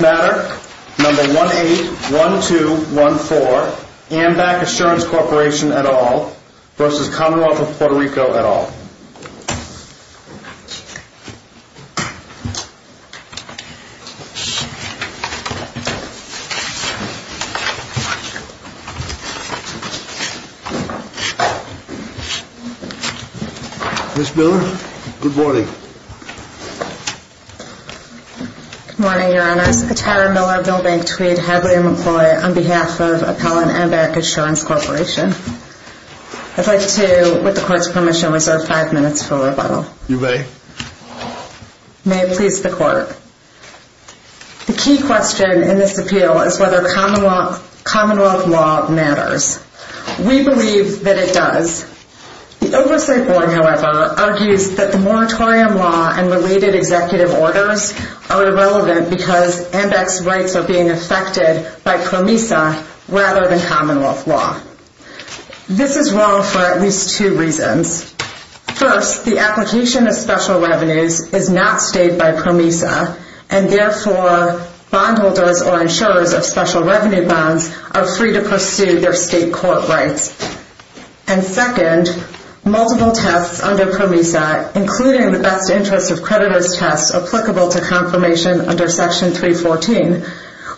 Matter No. 181214 Ambac Assurance Corporation et al. v. Commonwealth of Puerto Rico et al. Ms. Miller, good morning. Good morning, Your Honor. The Cater-Miller Building Suite has been employed on behalf of Ambac Assurance Corporation. I'd like to, with the court's permission, reserve five minutes for rebuttal. You may. May it please the court. The key question in this appeal is whether Commonwealth law matters. We believe that it does. The Oversight Board, however, argues that the moratorium law and related executive orders are irrelevant because Ambac's rights are being affected by PROMESA rather than Commonwealth law. This is wrong for at least two reasons. First, the application of special revenues is not paid by PROMESA, and therefore bondholders or insurers of special revenue bonds are free to pursue their state court rights. And second, multiple tests under PROMESA, including the best interest of creditors test applicable to confirmation under Section 314,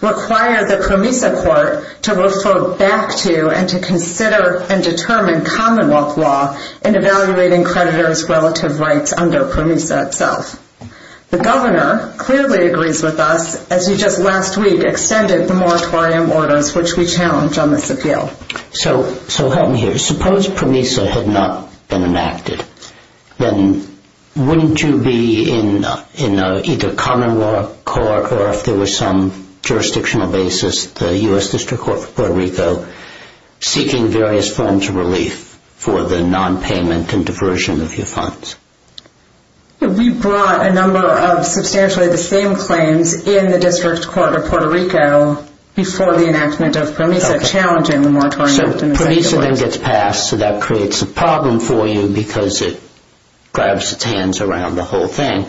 require the PROMESA court to refer back to and to consider and determine Commonwealth law in evaluating creditors' relative rights under PROMESA itself. The governor clearly agrees with us, as he just last week extended the moratorium orders, which we challenge on this appeal. So help me here. Suppose PROMESA had not been enacted. Then wouldn't you be in either Commonwealth court or if there was some jurisdictional basis, the U.S. District Court of Puerto Rico, seeking various forms of relief for the nonpayment and diversion of your funds? We brought a number of substantially the same claims in the District Court of Puerto Rico before the enactment of PROMESA. So PROMESA then gets passed, so that creates a problem for you because it grabs its hands around the whole thing.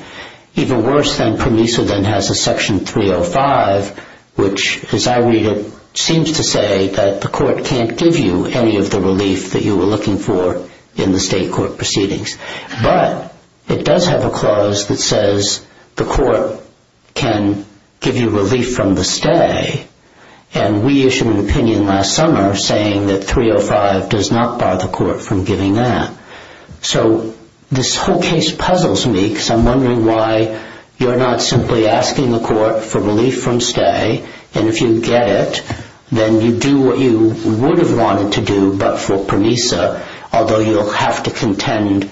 Even worse, then PROMESA then has a Section 305, which, as I read it, seems to say that the court can't give you any of the relief that you were looking for in the state court proceedings. But it does have a clause that says the court can give you relief from the stay, and we issued an opinion last summer saying that 305 does not bar the court from giving that. So this whole case puzzles me, because I'm wondering why you're not simply asking the court for relief from stay, and if you get it, then you do what you would have wanted to do but for PROMESA, although you'll have to contend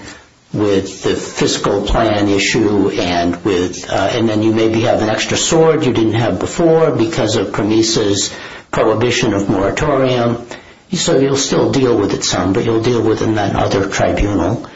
with the fiscal plan issue and then you maybe have an extra sword you didn't have before because of PROMESA's prohibition of moratorium. So you'll still deal with it some, but you'll deal with it in that other tribunal.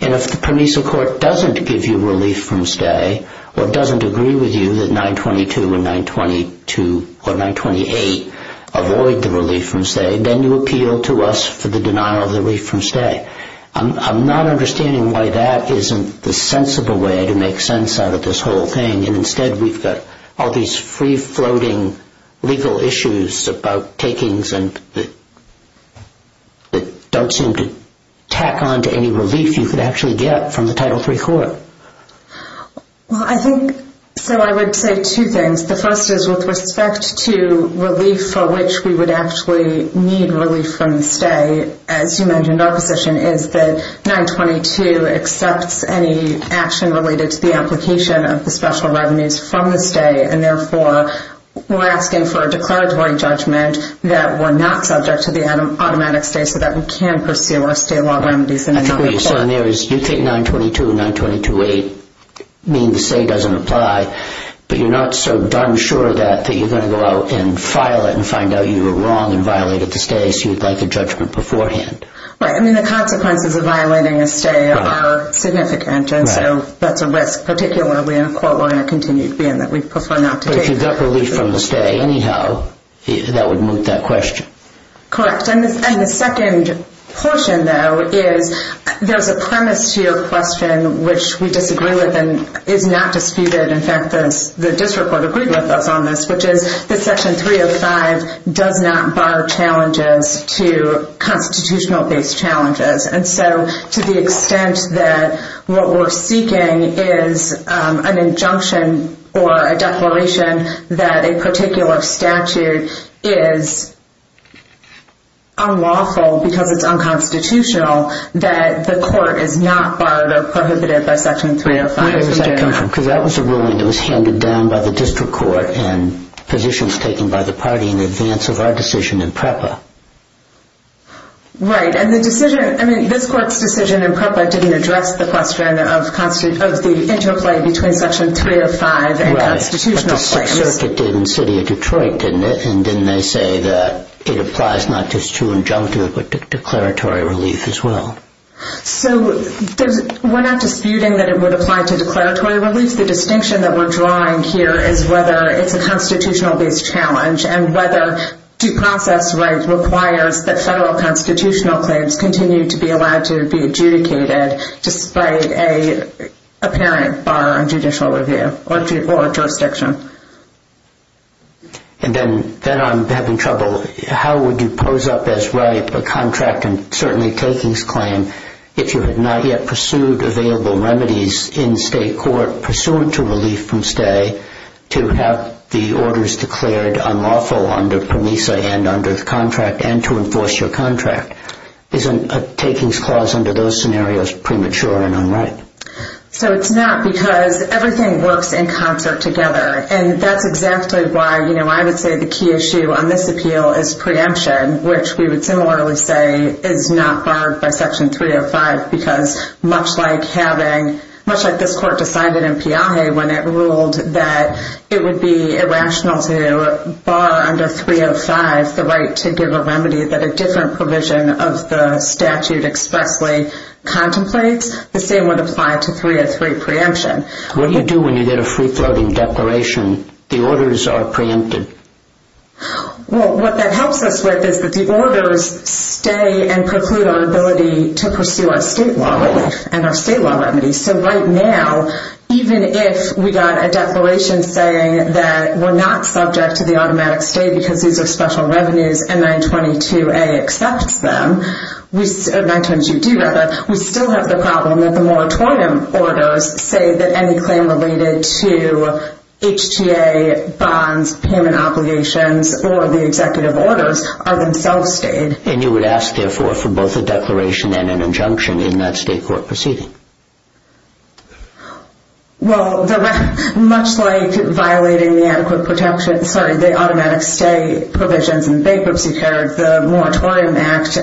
And if the PROMESA court doesn't give you relief from stay or doesn't agree with you that 922 and 922 or 928 avoid the relief from stay, then you appeal to us for the denial of the relief from stay. I'm not understanding why that isn't the sensible way to make sense out of this whole thing, and instead we've got all these free-floating legal issues about takings that don't seem to tack on to any relief you could actually get from the Title III court. Well, I think so I would say two things. The first is with respect to relief for which we would actually need relief from stay, as you mentioned, our position is that 922 accepts any action related to the application of the special revenues from the stay, and therefore we're asking for a decreditory judgment that we're not subject to the automatic stay so that we can pursue our state law remedies in any other case. You think 922 and 922-8 mean the stay doesn't apply, but you're not so darn sure of that that you're going to go out and file it and find out you were wrong and violated the stay so you'd like a judgment beforehand. Right. I mean, the consequences of violating a stay are significant, and so that's a risk, particularly in a court where we're in a contingency and that we prefer not to take it. But if you got relief from the stay anyhow, that would move that question. Correct. And the second portion, though, is there's a premise to your question, which we disagree with and is not disputed. In fact, the district court agreed with us on this, which is that Section 305 does not bar challenges to constitutional-based challenges. And so to the extent that what we're seeking is an injunction or a declaration that a particular statute is unlawful because it's unconstitutional, that the court is not barred or prohibited by Section 305. That was a ruling that was handed down by the district court and positions taken by the party in advance of our decision in PREPA. Right. And the decision, I mean, this court's decision in PREPA didn't address the question of the interplay between Section 305 and constitutional claims. Right. That's what the circuit did in the city of Detroit, didn't it? And didn't they say that it applies not just to injunctive but declaratory relief as well? So we're not disputing that it would apply to declaratory relief. The distinction that we're drawing here is whether it's a constitutional-based challenge and whether due process rights require that federal constitutional claims continue to be allowed to be adjudicated despite an apparent bar on judicial review or jurisdiction. And then I'm having trouble. How would you pose up as right a contract and certainly takings claim if you had not yet pursued available remedies in state court pursuant to relief from stay to have the orders declared unlawful under PROMESA and under the contract and to enforce your contract? Isn't a takings clause under those scenarios premature and unright? So it's not because everything works in concert together. And that's exactly why, you know, I would say the key issue on this appeal is preemption, which we would similarly say is not barred by Section 305 because much like having, much like this court decided in PIA when it ruled that it would be irrational to bar under 305 the right to give a remedy that a different provision of the statute expectly contemplates, the same would apply to 303 preemption. What do you do when you get a free-floating declaration, the orders are preempted? Well, what that helps us with is that the orders stay and preclude our ability to pursue our state law and our state law remedies. So right now, even if we got a declaration saying that we're not subject to the automatic stay because these are special revenues and 922A accepts them, we still have the problem that the moratorium orders say that any claim related to HTA, bonds, payment obligations, or the executive orders are themselves stayed. And you would ask, therefore, for both a declaration and an injunction in that state court proceeding? Well, much like violating the automatic stay provisions in bankruptcy terms, the Moratorium Act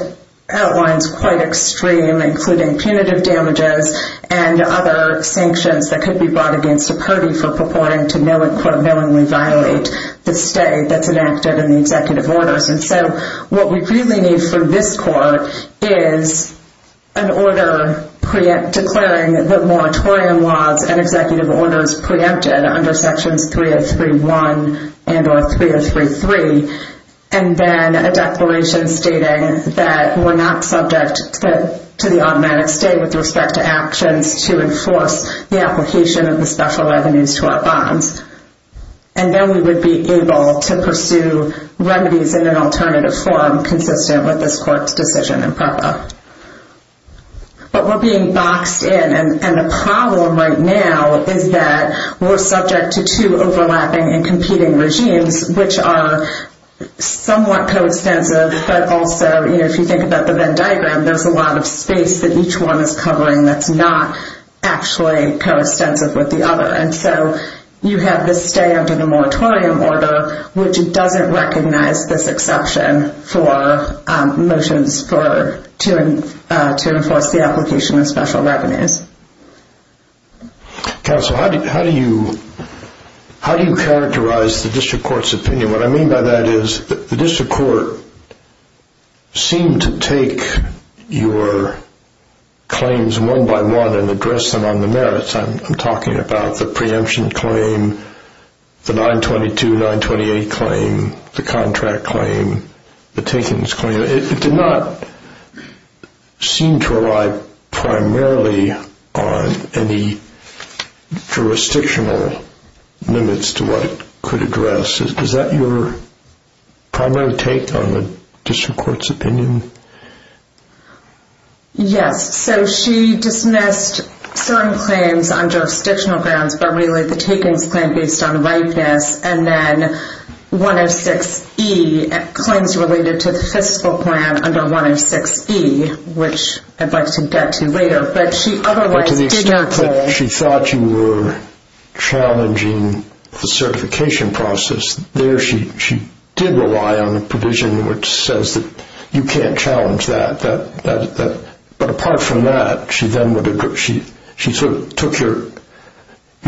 outlines quite extreme, including punitive damages and other sanctions that could be brought against the party for purporting to, quote, knowingly violate the stay that's enacted in the executive orders. And so what we do then need from this court is an order declaring that moratorium laws and executive orders preempted under Section 303.1 and or 303.3, and then a declaration stating that we're not subject to the automatic stay with respect to actions to enforce the application of the special revenues to our bonds. And then we would be able to pursue remedies in an alternative form consistent with this court's decision and process. But we're being boxed in, and the problem right now is that we're subject to two overlapping and competing regimes which are somewhat coextensive, but also, you know, if you think about the Venn diagram, there's a lot of space that each one is covering that's not actually coextensive with the other. And so you have this stay under the moratorium order, which doesn't recognize this exception for motions to enforce the application of special revenues. Counsel, how do you characterize the district court's opinion? What I mean by that is the district court seemed to take your claims one by one and address them on the merits. I'm talking about the preemption claim, the 922, 928 claim, the contract claim, the takings claim. It did not seem to rely primarily on any jurisdictional limits to what it could address. Is that your primary take on the district court's opinion? Yes. So she dismissed some claims on jurisdictional grounds, but really the takings claim based on license and then 106E, claims related to the fiscal plan under 106E, which I'd like to get to later. But she otherwise figured that- But can you still say she thought you were challenging the certification process? There she did rely on a provision which says that you can't challenge that. But apart from that, she sort of took your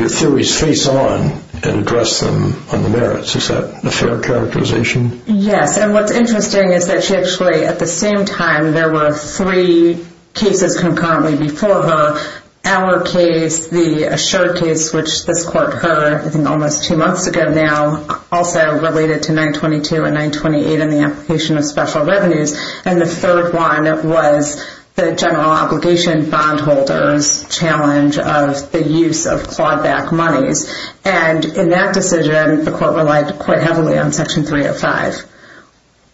theories face on and addressed them on the merits. Is that a fair characterization? Yes. And what's interesting is that she actually, at the same time, there were three cases concurrently before her. Our case, the Assure case, which this court heard almost two months ago now, also related to 922 and 928 and the application of special revenues. And the third one was the general obligation bondholder's challenge of the use of clawed-back money. And in that decision, the court relied quite heavily on Section 305.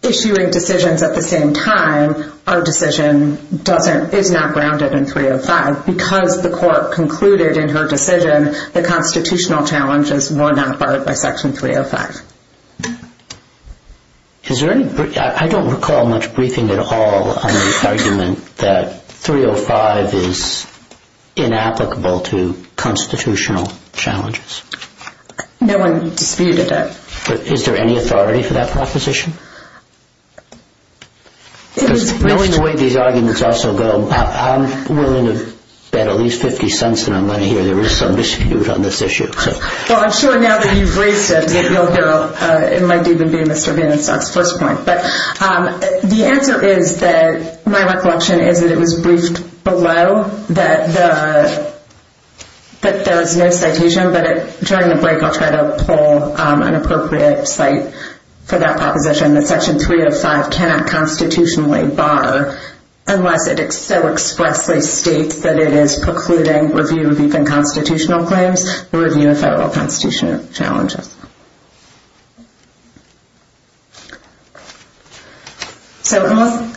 Issuing decisions at the same time, our decision is not grounded in 305. Because the court concluded in her decision that constitutional challenges were not part of Section 305. I don't recall much briefing at all on the argument that 305 is inapplicable to constitutional challenges. No one disputed it. Is there any authority for that proposition? Knowing the way these arguments also go, I'm willing to bet at least 50 cents on the money here. There is some dispute on this issue. Well, I'm sure now that you've briefed them, it might even be Mr. Hinn's source point. But the answer is that my recollection is that it was briefed for a while, that the citation, but during the break I'll try to pull an appropriate cite for that proposition, that Section 305 cannot constitutionally bar unless it so expressly states that it is precluding review of even constitutional claims or review of federal constitutional challenges.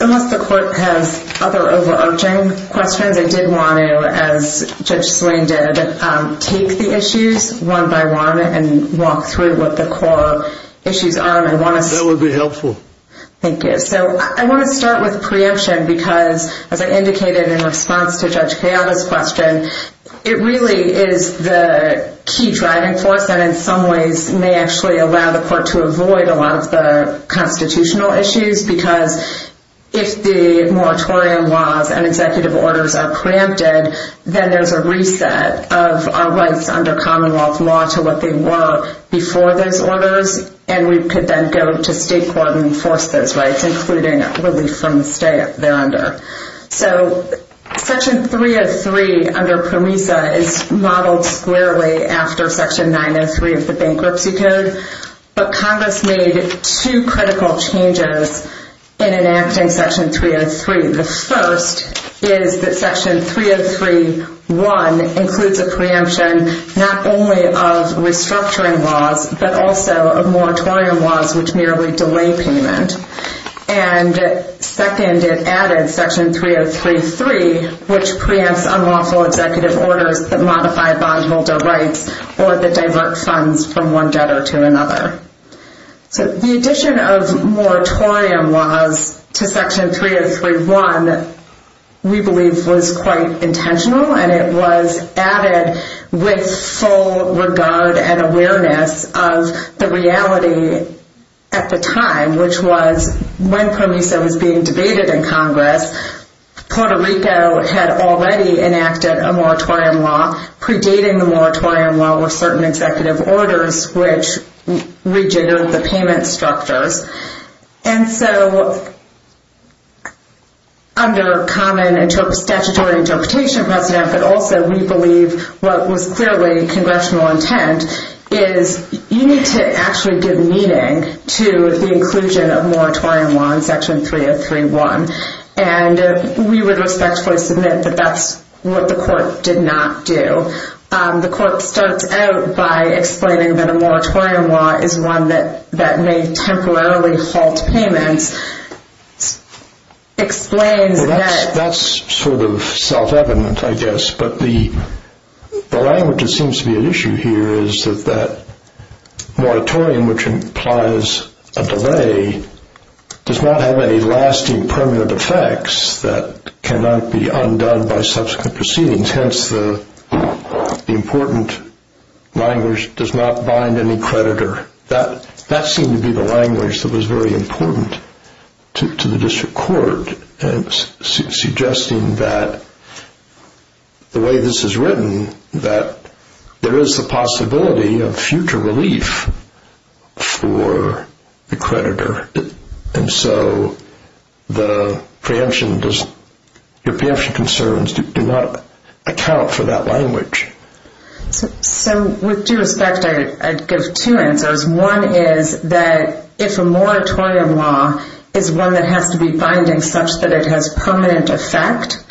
Unless the court has other overarching questions, I did want to, as Judge Green did, take the issues one by one and walk through what the core issues are. That would be helpful. Thank you. I want to start with preemption because, as I indicated in response to Judge Gabbard's question, it really is the key driving force that in some ways may actually allow the court to avoid a lot of the constitutional issues because if the moratorium laws and executive orders are granted, then there's a reset of our rights under Commonwealth law to what they were before those orders, and we could then go to state court and enforce those rights, including what we've come to say they're under. Section 303 under PROMESA is modeled clearly after Section 903 of the Bankruptcy Code, but Congress made two critical changes in enacting Section 303. The first is that Section 303.1 includes a preemption not only of restructuring laws, but also of moratorium laws, which merely delay payment. And second, it added Section 303.3, which preempts unlawful executive orders that modify bondholder rights or that divert funds from one debtor to another. The addition of moratorium laws to Section 303.1, we believe, was quite intentional, and it was added with full regard and awareness of the reality at the time, which was when PROMESA was being debated in Congress, Puerto Rico had already enacted a moratorium law, predating the moratorium law with certain executive orders, which rejiggers the payment structure. And so under common statutory interpretation of that method, also we believe what was clearly congressional intent is you need to actually give meaning to the inclusion of moratorium law in Section 303.1. And we would respectfully submit that that's what the courts did not do. So the court starts out by explaining that a moratorium law is one that may temporarily halt payment. Explain that. That's sort of self-evident, I guess, but the language that seems to be at issue here is that that moratorium, which implies a delay, does not have any lasting permanent effects that cannot be undone by subsequent proceedings. Hence, the important language does not bind any creditor. That seemed to be the language that was very important to the district court, suggesting that the way this is written, that there is the possibility of future relief for the creditor. And so the preemption concerns do not account for that language. So with due respect, I'd give two answers. One is that if a moratorium law is one that has to be binding such that it has permanent effect,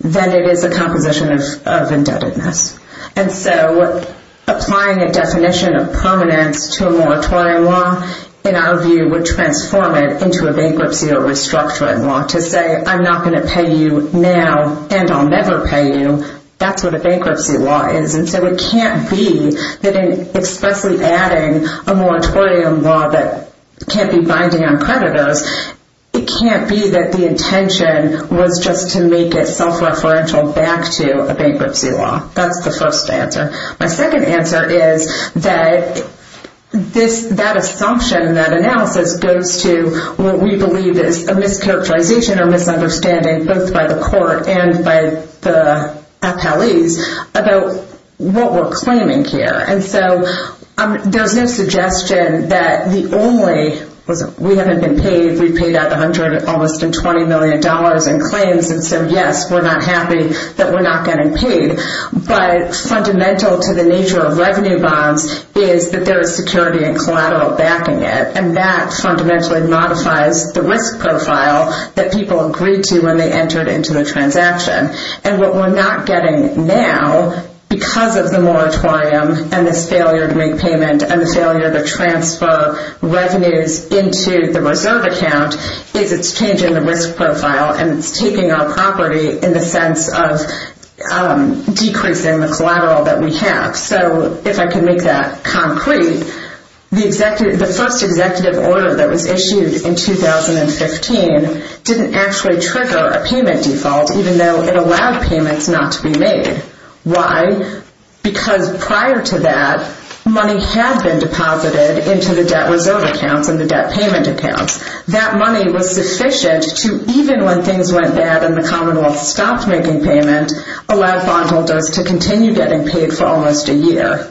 then it is a compromise of indebtedness. And so applying a definition of permanent to a moratorium law, in our view, would transform it into a bankruptcy or restructuring law to say, I'm not going to pay you now and I'll never pay you. That's what a bankruptcy law is. And so it can't be that in especially adding a moratorium law that can't be binding on creditors, it can't be that the intention was just to make it self-referential back to a bankruptcy law. That's the first answer. My second answer is that that assumption, that analysis, goes to what we believe is a mischaracterization or misunderstanding both by the court and by the appellees about what we're claiming here. And so there's no suggestion that the only – we haven't been paid. We paid out $120 million in claims and said, yes, we're not happy that we're not getting paid. But fundamental to the nature of revenue bonds is that there is security and collateral backing it, and that fundamentally modifies the risk profile that people agreed to when they entered into a transaction. And what we're not getting now because of the moratorium and the failure to make payment and the failure to transfer revenues into the reserve account is it's changing the risk profile and it's taking our property in the sense of decreasing the collateral that we have. So if I can make that concrete, the first executive order that was issued in 2015 didn't actually trigger a payment default even though it allowed payments not to be made. Why? Because prior to that, money had been deposited into the debt reserve account and the debt payment account. That money was sufficient to, even when things went bad and the Commonwealth stopped making payments, allow bondholders to continue getting paid for almost a year.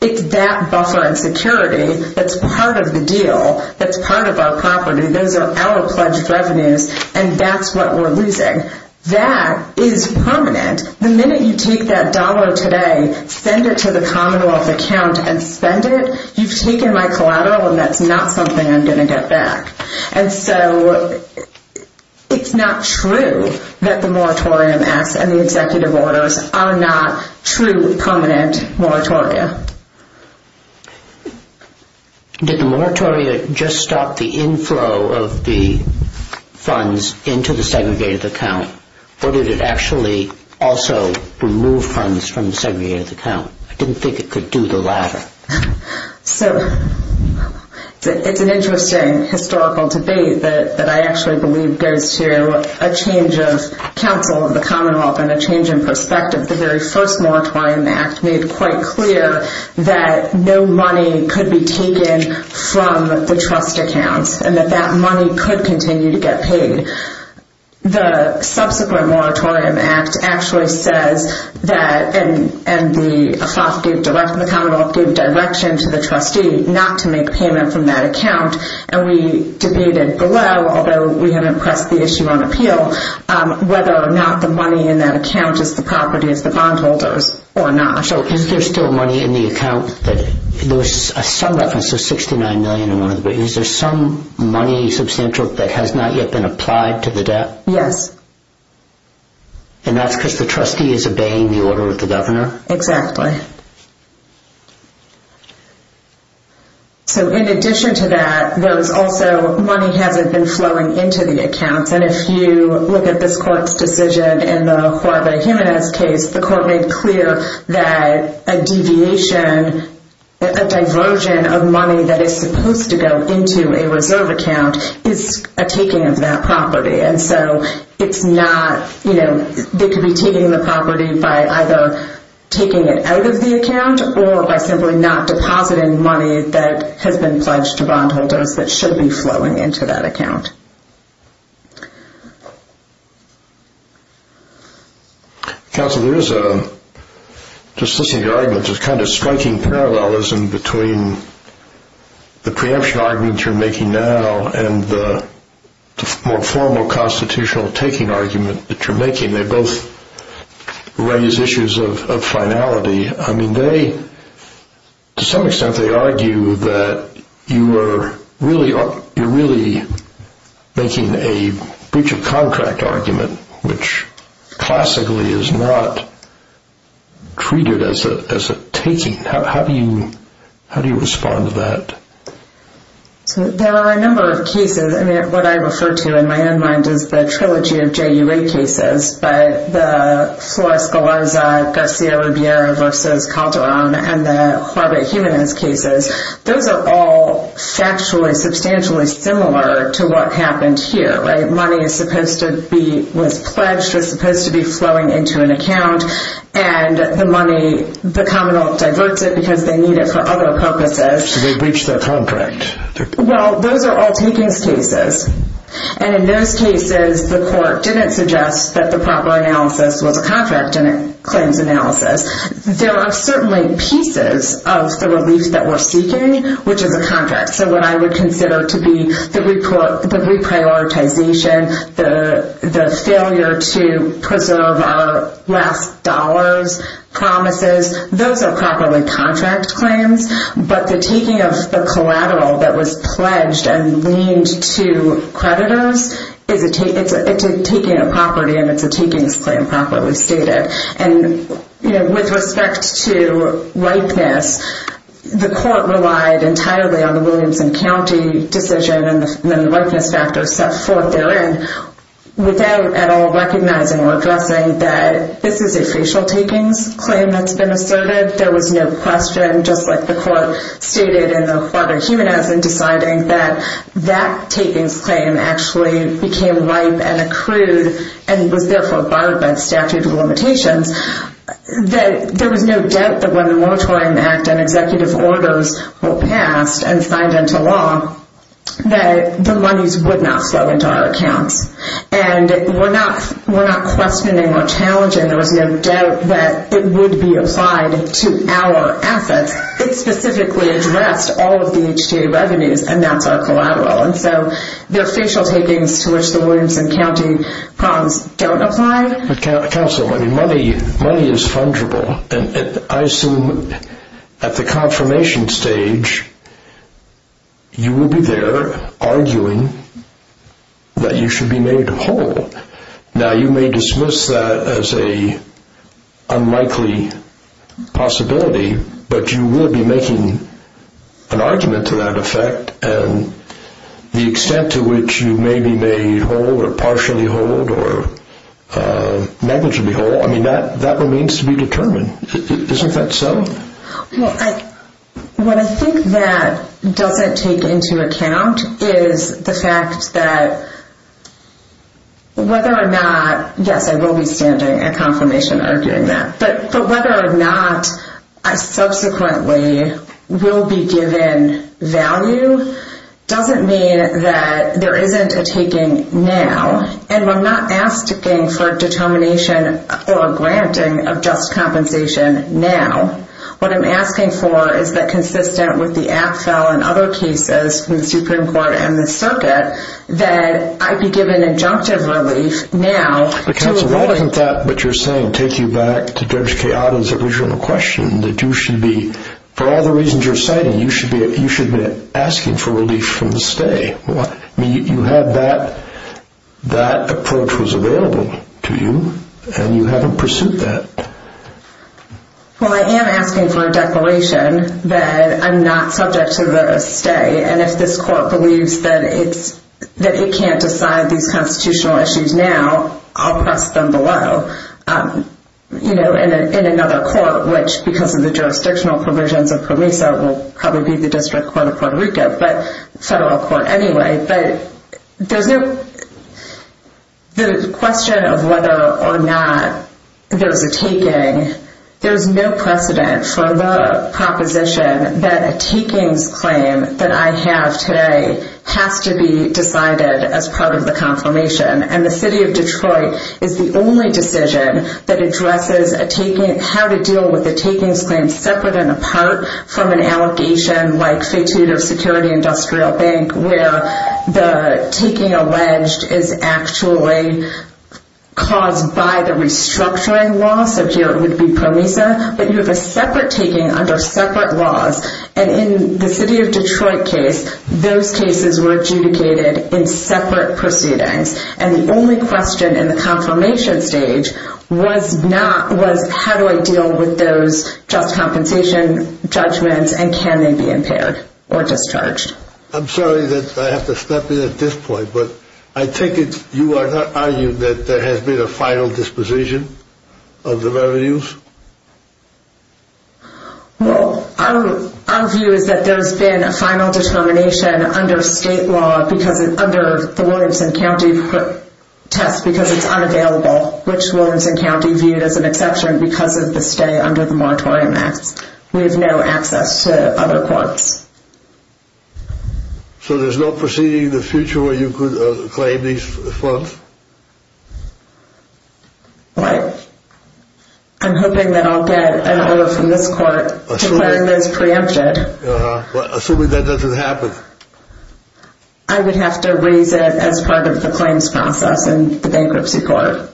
It's that buffer of security that's part of the deal, that's part of our property. Those are our pledged revenues, and that's what we're losing. That is permanent. The minute you take that dollar today, send it to the Commonwealth account and spend it, you've taken my collateral and that's not something I'm going to get back. And so it's not true that the moratorium act and the executive orders are not true permanent moratoria. Did the moratoria just stop the inflow of the funds into the segregated account or did it actually also remove funds from the segregated account? I didn't think it could do the latter. So it's an interesting historical debate that I actually believe goes to a change of capital in the Commonwealth and a change in perspective. The very first moratorium act made it quite clear that no money could be taken from the trust account and that that money could continue to get paid. The subsequent moratorium act actually said that, and the Commonwealth gave direction to the trustee not to make payments in that account, and we debated below, although we haven't pressed the issue on appeal, whether or not the money in that account is the property of the bondholders or not. So is there still money in the account? There was some reference to $69 million in there, but is there some money substantial that has not yet been applied to the debt? Yes. And that's because the trustee is obeying the order of the governor? Exactly. So in addition to that, there's also money haven't been flowing into the account, and if you look at this court's decision in the Father Jimenez case, the court made clear that a deviation, a diversion of money that is supposed to go into a reserve account is a taking of that property, and so it's not, you know, they could be taking the property by either taking it out of the account or by simply not depositing money that has been fudged to bondholders that should be flowing into that account. Okay. Counselor, there is a, just listening to the argument, just kind of striking parallelism between the preemption arguments you're making now and the more formal constitutional taking argument that you're making. They both raise issues of finality. I mean, they, to some extent, they argue that you're really making a breach of contract argument, which classically is not treated as a taking. How do you respond to that? There are a number of cases. I mean, what I refer to in my mind is the trilogy of JUA cases, but the Suarez-Galarza, Garcia-Rivera v. Calderon, and the Harvard-Hewman cases, those are all actually substantially similar to what happens here, right? Money is supposed to be, when fudged, is supposed to be flowing into an account, and the money, the commonwealth diverts it because they need it for other purposes. So they breach their contract. Well, those are all taking cases, and in those cases, the court didn't suggest that the proper analysis was a contract and a claims analysis. There are certainly pieces of the release that we're seeking, which is a contract. So what I would consider to be the reprioritization, the failure to preserve our last dollars, promises, those are properly contract claims, but the taking of the collateral that was pledged and leaned to creditors is a taking of property, and it's a taking of claims properly stated. And, you know, with respect to likeness, the court relied entirely on the Williamson County decision and the likeness factor set forth therein without at all recognizing or addressing that this is a facial-taking claim that's been asserted. And if there was no question, just like the court stated in the Aquatic Human Act, in deciding that that taking claim actually became life and accrued and was therefore barred by statute of limitations, that there was no doubt that when the Moratorium Act and executive orders were passed and signed into law, that the monies would not flow into our account. And we're not questioning or challenging. And there was no doubt that it would be applied to our assets. It specifically addressed all of the HTA revenues and not the collateral. And so those facial takings to which the Williamson County prompts don't apply. Counsel, money is fungible. And I assume at the confirmation stage, you will be there arguing that you should be made whole. Now, you may dismiss that as an unlikely possibility, but you will be making an argument to that effect. And the extent to which you may be made whole or partially whole or magnitudinally whole, I mean, that remains to be determined. Isn't that so? What I think that doesn't take into account is the fact that whether or not, yes, I will be standing at confirmation arguing that. But whether or not I subsequently will be given value doesn't mean that there isn't a taking now. And I'm not asking for determination or granting of just compensation now. What I'm asking for is that consistent with the AFTEL and other cases in the Supreme Court and the circuit that I be given injunctive relief now. Counsel, why doesn't that, what you're saying, take you back to Judge Kayada's original question that you should be, for all the reasons you're citing, you should be asking for relief from the stay? I mean, you had that, that approach was available to you, and you haven't pursued that. Well, I am asking for a declaration that I'm not subject to the stay, and if this court believes that it can't decide these constitutional issues now, I'll press them below. You know, in another court, which, because of the jurisdictional provisions of PROMESA, will probably be the District Court of Puerto Rico. So, anyway, there's no question of whether or not there's a taking. There's no precedent for the proposition that a taking claim that I have today has to be decided as part of the confirmation. And the city of Detroit is the only decision that addresses a taking, how to deal with a taking claim separate and apart from an allegation like, say, through the Security Industrial Bank where the taking alleged is actually caused by the restructuring law, so here it would be PROMESA. But you have a separate taking under separate laws, and in the city of Detroit case, those cases were adjudicated in separate proceedings. And the only question in the confirmation stage was not, was how do I deal with those job compensation judgments, and can they be impaired or discharged? I'm sorry that I have to stop you at this point, but I take it you are not arguing that there has been a final disposition of the revenues? Well, our view is that there's been a final discrimination under state law because it's under the Wilmington County test because it's unavailable, which Wilmington County viewed as an exception because it's a state under the MARA Climax. We have no access to other courts. So there's no proceeding in the future where you could claim these funds? Right. I'm hoping that I'll get an oath in this court to claim those preempted. Assuming that doesn't happen. I would have to read that as part of the claims contract and the bankruptcy clause.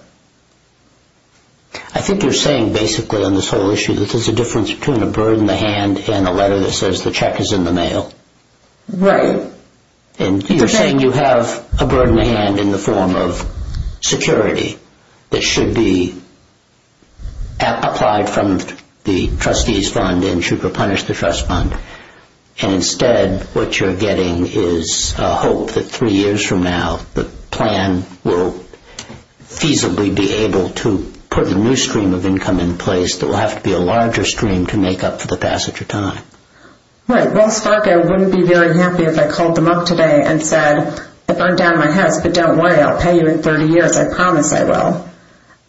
I think you're saying basically on this whole issue that there's a difference between a burden in the hand and a letter that says the check is in the mail. Right. And you're saying you have a burden in the hand in the form of security that should be applied from the trustee's fund and should replenish the trust fund. And instead, what you're getting is a hope that three years from now, the plan will feasibly be able to put a new stream of income in place that will have to be a larger stream to make up for the passage of time. Right. Well, I thought I wouldn't be very happy if I called them up today and said, if I'm down in my house, sit down and wait. I'll pay you in 30 years. I promise I will.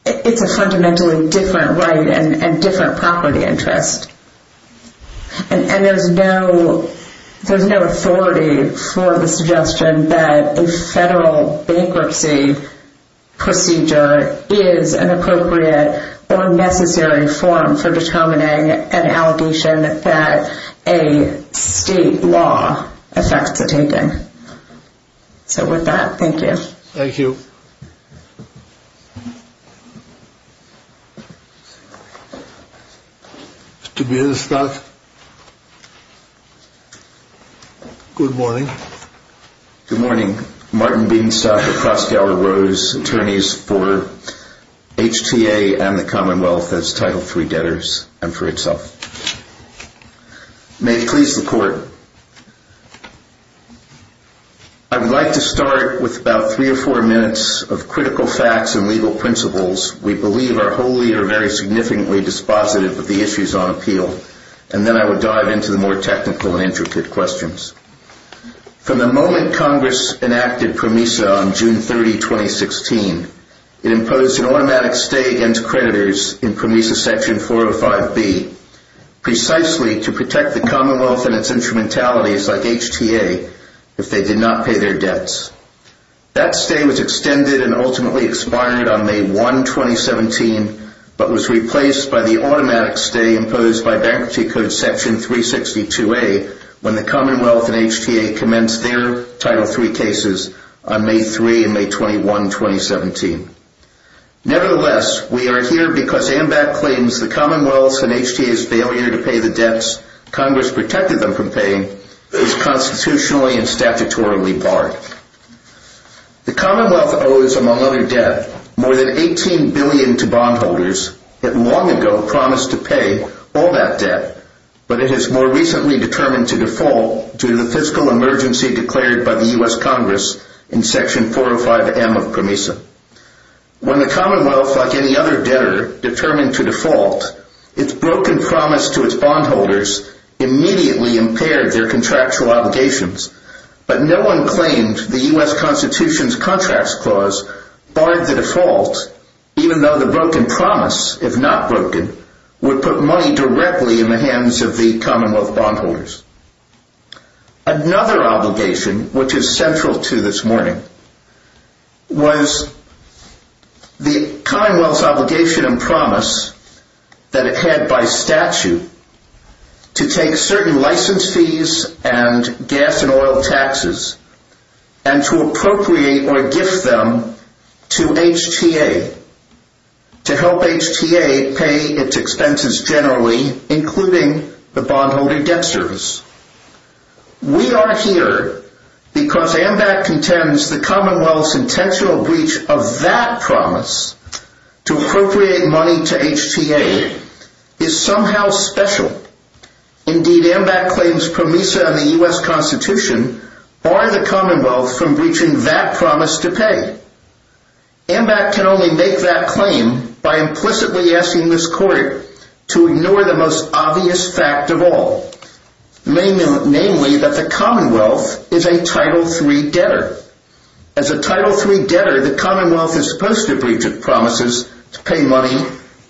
It's a fundamentally different right and different property interest. And there's no authority for the suggestion that a federal bankruptcy procedure is an appropriate or necessary form for determining an allegation that a state law affects the same thing. So with that, thank you. Thank you. Mr. Beanstock. Good morning. Good morning. Martin Beanstock of Crossgaller Rose, attorneys for HTA and the Commonwealth as Title III debtors and for itself. May I please report? I would like to start with about three or four minutes of critical facts and legal principles. We believe our whole leader very significantly dispositive of the issues on appeal. And then I will dive into the more technical and intricate questions. From the moment Congress enacted PROMESA on June 30, 2016, it imposed an automatic stay against creditors in PROMESA Section 405B, precisely to protect the Commonwealth and its instrumentalities like HTA if they did not pay their debts. That stay was extended and ultimately expired on May 1, 2017, but was replaced by the automatic stay imposed by Bankruptcy Code Section 362A when the Commonwealth and HTA commenced their Title III cases on May 3 and May 21, 2017. Nevertheless, we are here because AMBAC claims the Commonwealth and HTA's failure to pay the debts Congress protected them from paying is constitutionally and statutorily barred. The Commonwealth owes, among other debt, more than $18 billion to bondholders that long ago promised to pay all that debt, but it has more recently determined to default due to the fiscal emergency declared by the U.S. Congress in Section 405M of PROMESA. When the Commonwealth, like any other debtor, determined to default, its broken promise to its bondholders immediately impaired their contractual obligations, but no one claimed the U.S. Constitution's Contracts Clause barred the default, even though the broken promise, if not broken, would put money directly in the hands of the Commonwealth bondholders. Another obligation, which is central to this morning, was the Commonwealth's obligation and promise that it had by statute to take certain license fees and gas and oil taxes and to appropriate or gift them to HTA to help HTA pay its expenses generally, including the bondholder debt service. We are here because AMBAC contends the Commonwealth's intentional breach of that promise to appropriate money to HTA is somehow special. Indeed, AMBAC claims PROMESA and the U.S. Constitution bar the Commonwealth from breaching that promise to pay. AMBAC can only make that claim by implicitly asking this Court to ignore the most obvious fact of all, namely that the Commonwealth is a Title III debtor. As a Title III debtor, the Commonwealth is supposed to breach its promises to pay money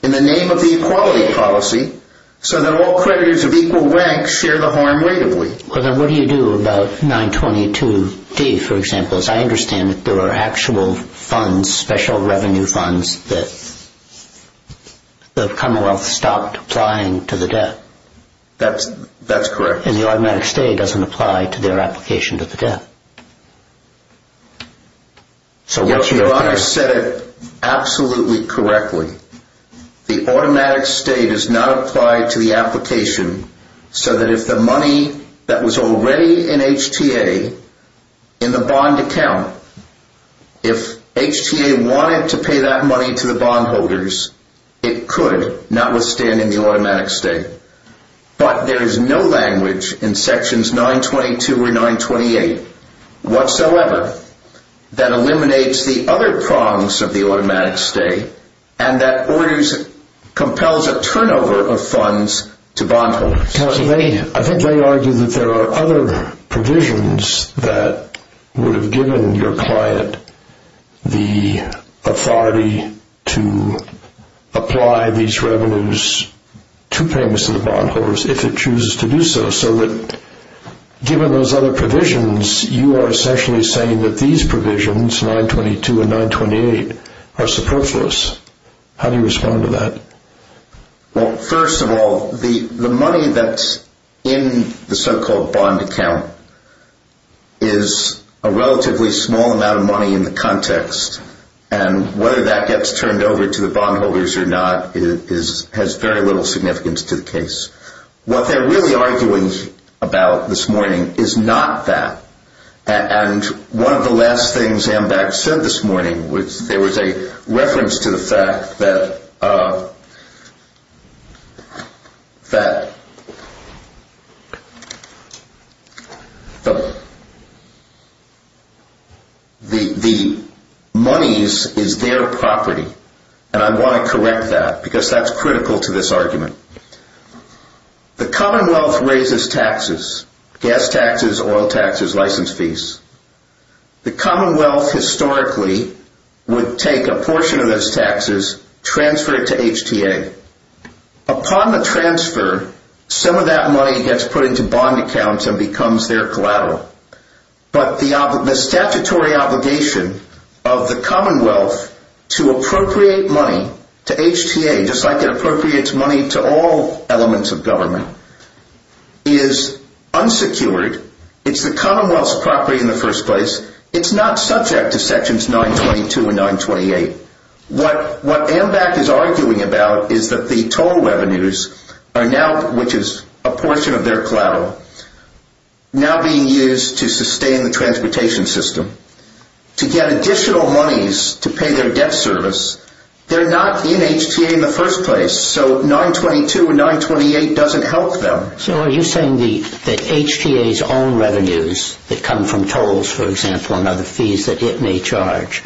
in the name of the Equality Policy so that all creditors of equal rank share the harm regularly. What do you do about 922D, for example? I understand that there are actual funds, special revenue funds, that the Commonwealth stopped applying to the debt. That's correct. And the automatic stay doesn't apply to their application to the debt. Your Honor said it absolutely correctly. The automatic stay does not apply to the application so that if the money that was already in HTA in the bond account, if HTA wanted to pay that money to the bondholders, it could not withstand any automatic stay. But there is no language in Sections 922 or 928 whatsoever that eliminates the other prongs of the automatic stay and that always compels a turnover of funds to bondholders. Counsel, I think they argue that there are other provisions that would have given your client the authority to apply these revenues to payments to the bondholders if it chooses to do so, so that given those other provisions, you are essentially saying that these provisions, 922 and 928, are superfluous. How do you respond to that? Well, first of all, the money that's in the so-called bond account is a relatively small amount of money in the context, and whether that gets turned over to the bondholders or not has very little significance to the case. What they're really arguing about this morning is not that. And one of the last things Amdach said this morning, there was a reference to the fact that the monies is their property, and I want to correct that because that's critical to this argument. The Commonwealth raises taxes, gas taxes, oil taxes, license fees. The Commonwealth historically would take a portion of those taxes, transfer it to HTA. Upon the transfer, some of that money gets put into bond accounts and becomes their collateral. But the statutory obligation of the Commonwealth to appropriate money to HTA, just like it appropriates money to all elements of government, is unsecured. It's the Commonwealth's property in the first place. It's not subject to sections 922 and 928. What Amdach is arguing about is that the total revenues, which is a portion of their collateral, now being used to sustain the transportation system, to get additional monies to pay their debt service, they're not in HTA in the first place. So 922 and 928 doesn't help them. So are you saying that HTA's own revenues that come from tolls, for example, and other fees that it may charge,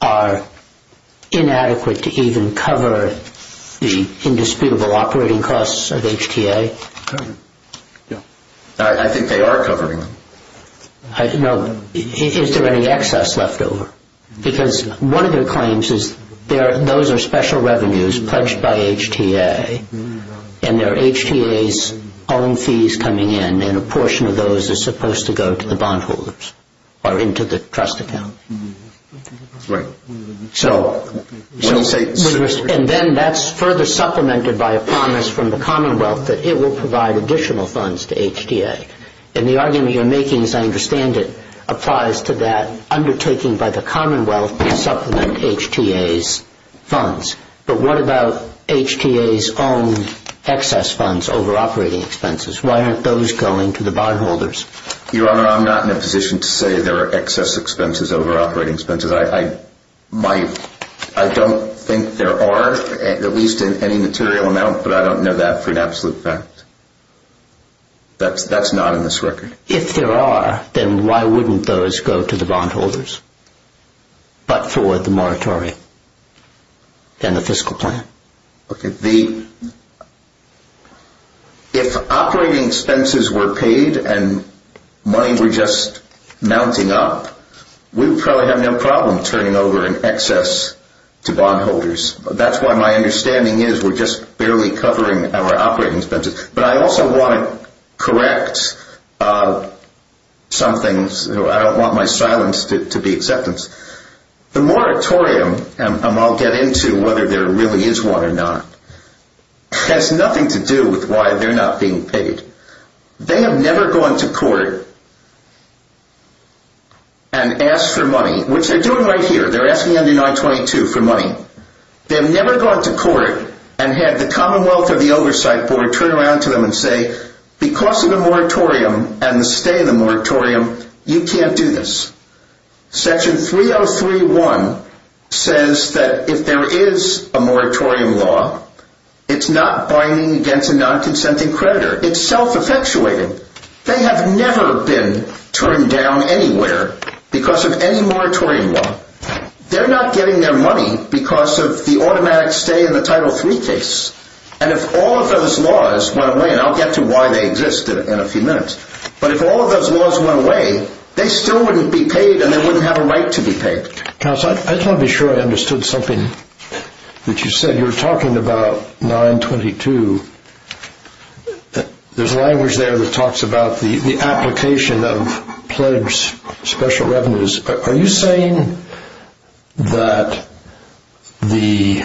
are inadequate to even cover the indisputable operating costs of HTA? No. I think they are covering them. No. Is there any excess left over? Because one of their claims is those are special revenues pledged by HTA, and they're HTA's own fees coming in, and a portion of those is supposed to go to the bondholders or into the trust account. Right. And then that's further supplemented by a promise from the Commonwealth that it will provide additional funds to HTA. And the argument you're making, as I understand it, applies to that undertaking by the Commonwealth to supplement HTA's funds. But what about HTA's own excess funds over operating expenses? Why aren't those going to the bondholders? Your Honor, I'm not in a position to say there are excess expenses over operating expenses. I don't think there are, at least in any material amount, but I don't know that for an absolute fact. That's not in this record. If there are, then why wouldn't those go to the bondholders, but for the moratorium and the fiscal plan? Okay. If operating expenses were paid and money were just mounting up, we would probably have no problem turning over an excess to bondholders. That's what my understanding is. We're just barely covering our operating expenses. But I also want to correct something. I don't want my silence to be acceptance. The moratorium, and I'll get into whether there really is one or not, has nothing to do with why they're not being paid. They have never gone to court and asked for money, which they're doing right here. They're asking under 922 for money. They've never gone to court and had the Commonwealth or the Oversight Board turn around to them and say, because of the moratorium and the stay in the moratorium, you can't do this. Section 303.1 says that if there is a moratorium law, it's not binding against a non-consenting creditor. It's self-effectuating. They have never been turned down anywhere because of any moratorium law. They're not getting their money because of the automatic stay in the Title III case. And if all of those laws went away, and I'll get to why they existed in a few minutes, but if all of those laws went away, they still wouldn't be paid and they wouldn't have a right to be paid. Counsel, I'm not sure I understood something that you said. You were talking about 922. There's language there that talks about the application of pledged special revenues. Are you saying that the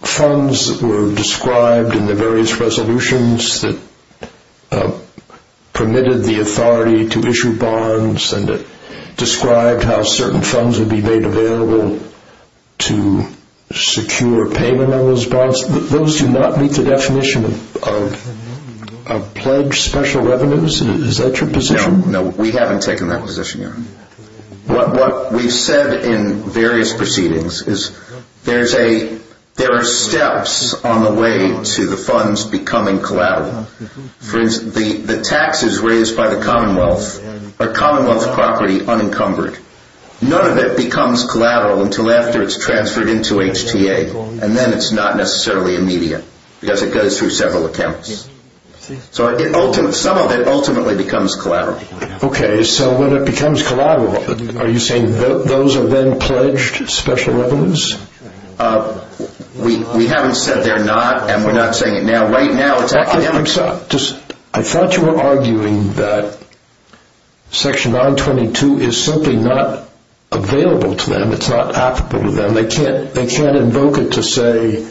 funds that were described in the various resolutions that permitted the authority to issue bonds and described how certain funds would be made available to secure payment on those bonds, those do not meet the definition of pledged special revenues? Is that your position? No, we haven't taken that position yet. What we've said in various proceedings is there are steps on the way to the funds becoming collateral. The taxes raised by the Commonwealth are Commonwealth property unencumbered. None of it becomes collateral until after it's transferred into HTA, and then it's not necessarily immediate because it goes through several accounts. Some of it ultimately becomes collateral. Okay, so when it becomes collateral, are you saying those are then pledged special revenues? We haven't said they're not, and we're not saying it now. Right now it's academic. I thought you were arguing that Section 922 is simply not available to them. It's not applicable to them. They can't invoke it to say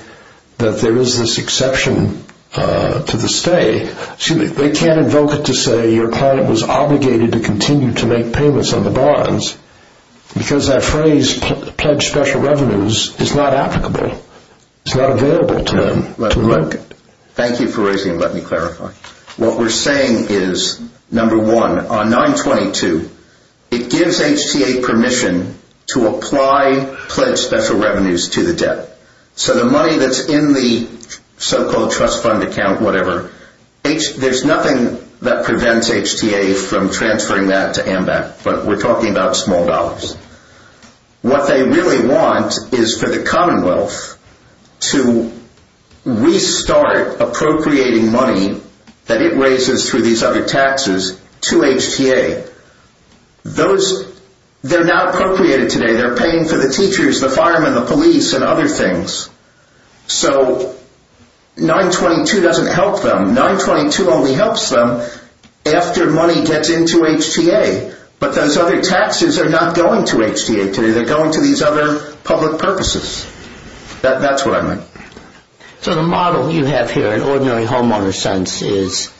that there is this exception to the stay. They can't invoke it to say your client was obligated to continue to make payments on the bonds because that phrase, pledged special revenues, is not applicable. It's not available to them to work. Thank you for raising it. Let me clarify. What we're saying is, number one, on 922, it gives HTA permission to apply pledged special revenues to the debt. So the money that's in the so-called trust fund account, whatever, there's nothing that prevents HTA from transferring that to AMBAC, but we're talking about small dollars. What they really want is for the Commonwealth to restart appropriating money that it raises through these other taxes to HTA. They're not appropriated today. They're paying for the teachers, the firemen, the police, and other things. So 922 doesn't help them. 922 only helps them after money gets into HTA. But those other taxes are not going to HTA today. They're going to these other public purposes. That's what I meant. So the model you have here in ordinary homeowner sense is,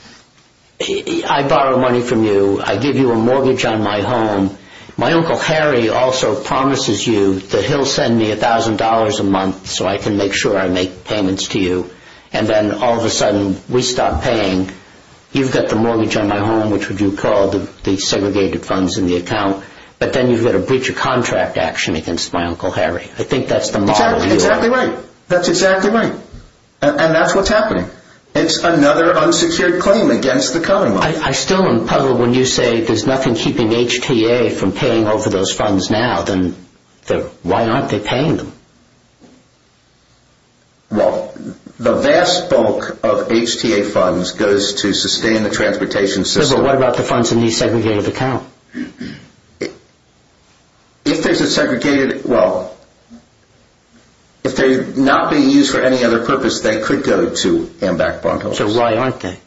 I borrow money from you. I give you a mortgage on my home. My Uncle Harry also promises you that he'll send me $1,000 a month so I can make sure I make payments to you. And then all of a sudden we stop paying. You've got the mortgage on my home, which would be called the segregated funds in the account, but then you've got a breach of contract action against my Uncle Harry. I think that's the model you have. Exactly right. That's exactly right. And that's what's happening. It's another unsecured claim against the Commonwealth. I still am puzzled when you say there's nothing keeping HTA from paying over those funds now. Why aren't they paying them? Well, the vast bulk of HTA funds goes to sustain the transportation system. So what about the funds in the segregated account? If there's a segregated – well, if they're not being used for any other purpose, they could go to hand-back bondholders. So why aren't they?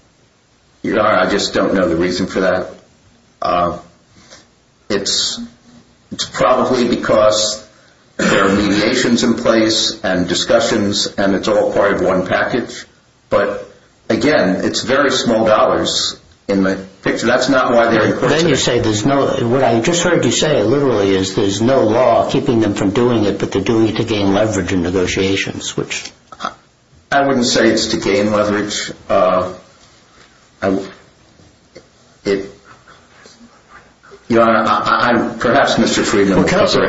I just don't know the reason for that. It's probably because there are mediations in place and discussions, and it's all part of one package. But, again, it's very small dollars in the picture. That's not why they're in question. But then you say there's no – what I just heard you say literally is there's no law keeping them from doing it, but they're doing it to gain leverage in negotiations, which – I wouldn't say it's to gain leverage. I'm – perhaps Mr. Friedman will answer.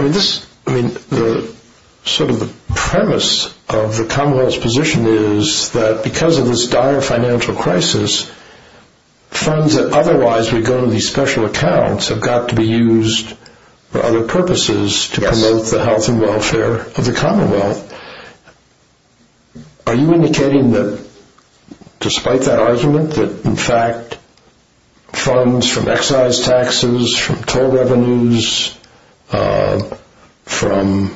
I mean, sort of the premise of the Commonwealth's position is that because of this dire financial crisis, funds that otherwise would go to these special accounts have got to be used for other purposes to promote the health and welfare of the Commonwealth. Are you indicating that despite that argument, that, in fact, funds from excise taxes, from toll revenues, from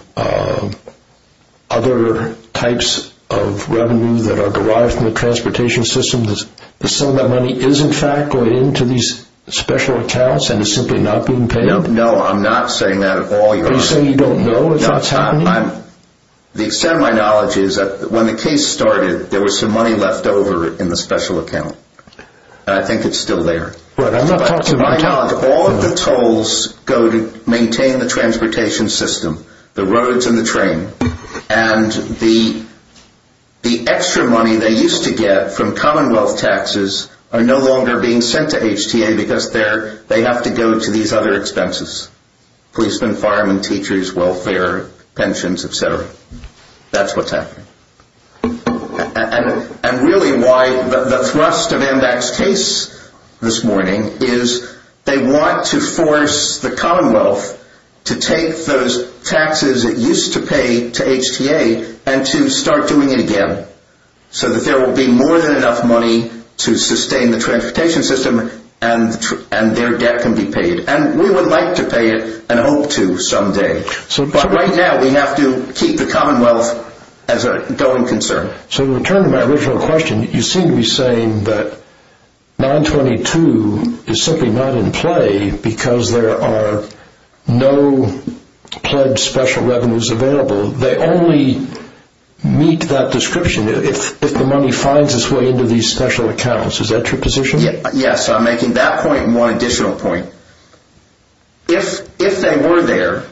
other types of revenue that are derived from the transportation system, that some of that money is, in fact, going into these special accounts and is simply not being paid? No, I'm not saying that at all. Are you saying you don't know at this time? No, I'm – the extent of my knowledge is that when the case started, there was some money left over in the special account, and I think it's still there. But I'm not talking about – All of the tolls go to maintain the transportation system, the roads and the train, and the extra money they used to get from Commonwealth taxes are no longer being sent to HTA because they have to go to these other expenses. Policemen, firemen, teachers, welfare, pensions, et cetera. That's what's happening. And really why the thrust of MDAC's case this morning is they want to force the Commonwealth to take those taxes it used to pay to HTA and to start doing it again so that there will be more than enough money to sustain the transportation system and their debt can be paid. And we would like to pay it and hope to someday, but right now we have to keep the Commonwealth as a going concern. So to return to my original question, you seem to be saying that 922 is simply not in play because there are no pledged special revenues available. They only meet that description if the money finds its way into these special accounts. Is that your position? Yes, I'm making that point and one additional point. If they were there,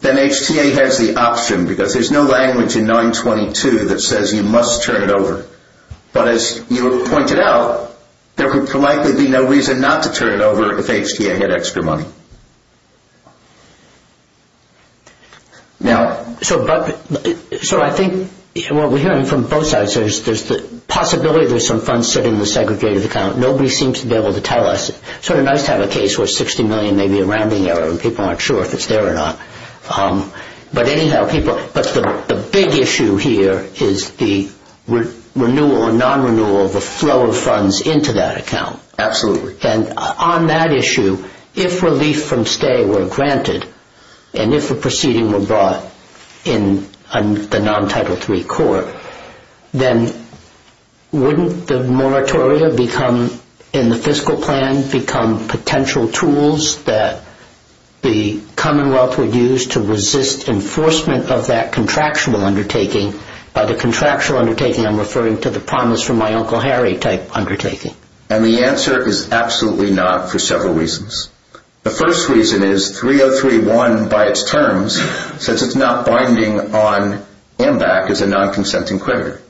then HTA has the option because there's no language in 922 that says you must turn it over. But as you pointed out, there would likely be no reason not to turn it over if HTA had extra money. So I think what we're hearing from both sides is there's the possibility that there's some funds sitting in the segregated account. Nobody seems to be able to tell us. It's sort of nice to have a case where $60 million may be around there and people aren't sure if it's there or not. But anyhow, the big issue here is the renewal or non-renewal of the flow of funds into that account. Absolutely. And on that issue, if relief from stay were granted and if a proceeding were brought in a non-Title III court, then wouldn't the moratoria become, in the fiscal plan, become potential tools that the Commonwealth would use to resist enforcement of that contractual undertaking? By the contractual undertaking, I'm referring to the promise from my Uncle Harry type undertaking. And the answer is absolutely not for several reasons. The first reason is 303.1 by its terms says it's not binding on AMBAC as a non-consenting creditor.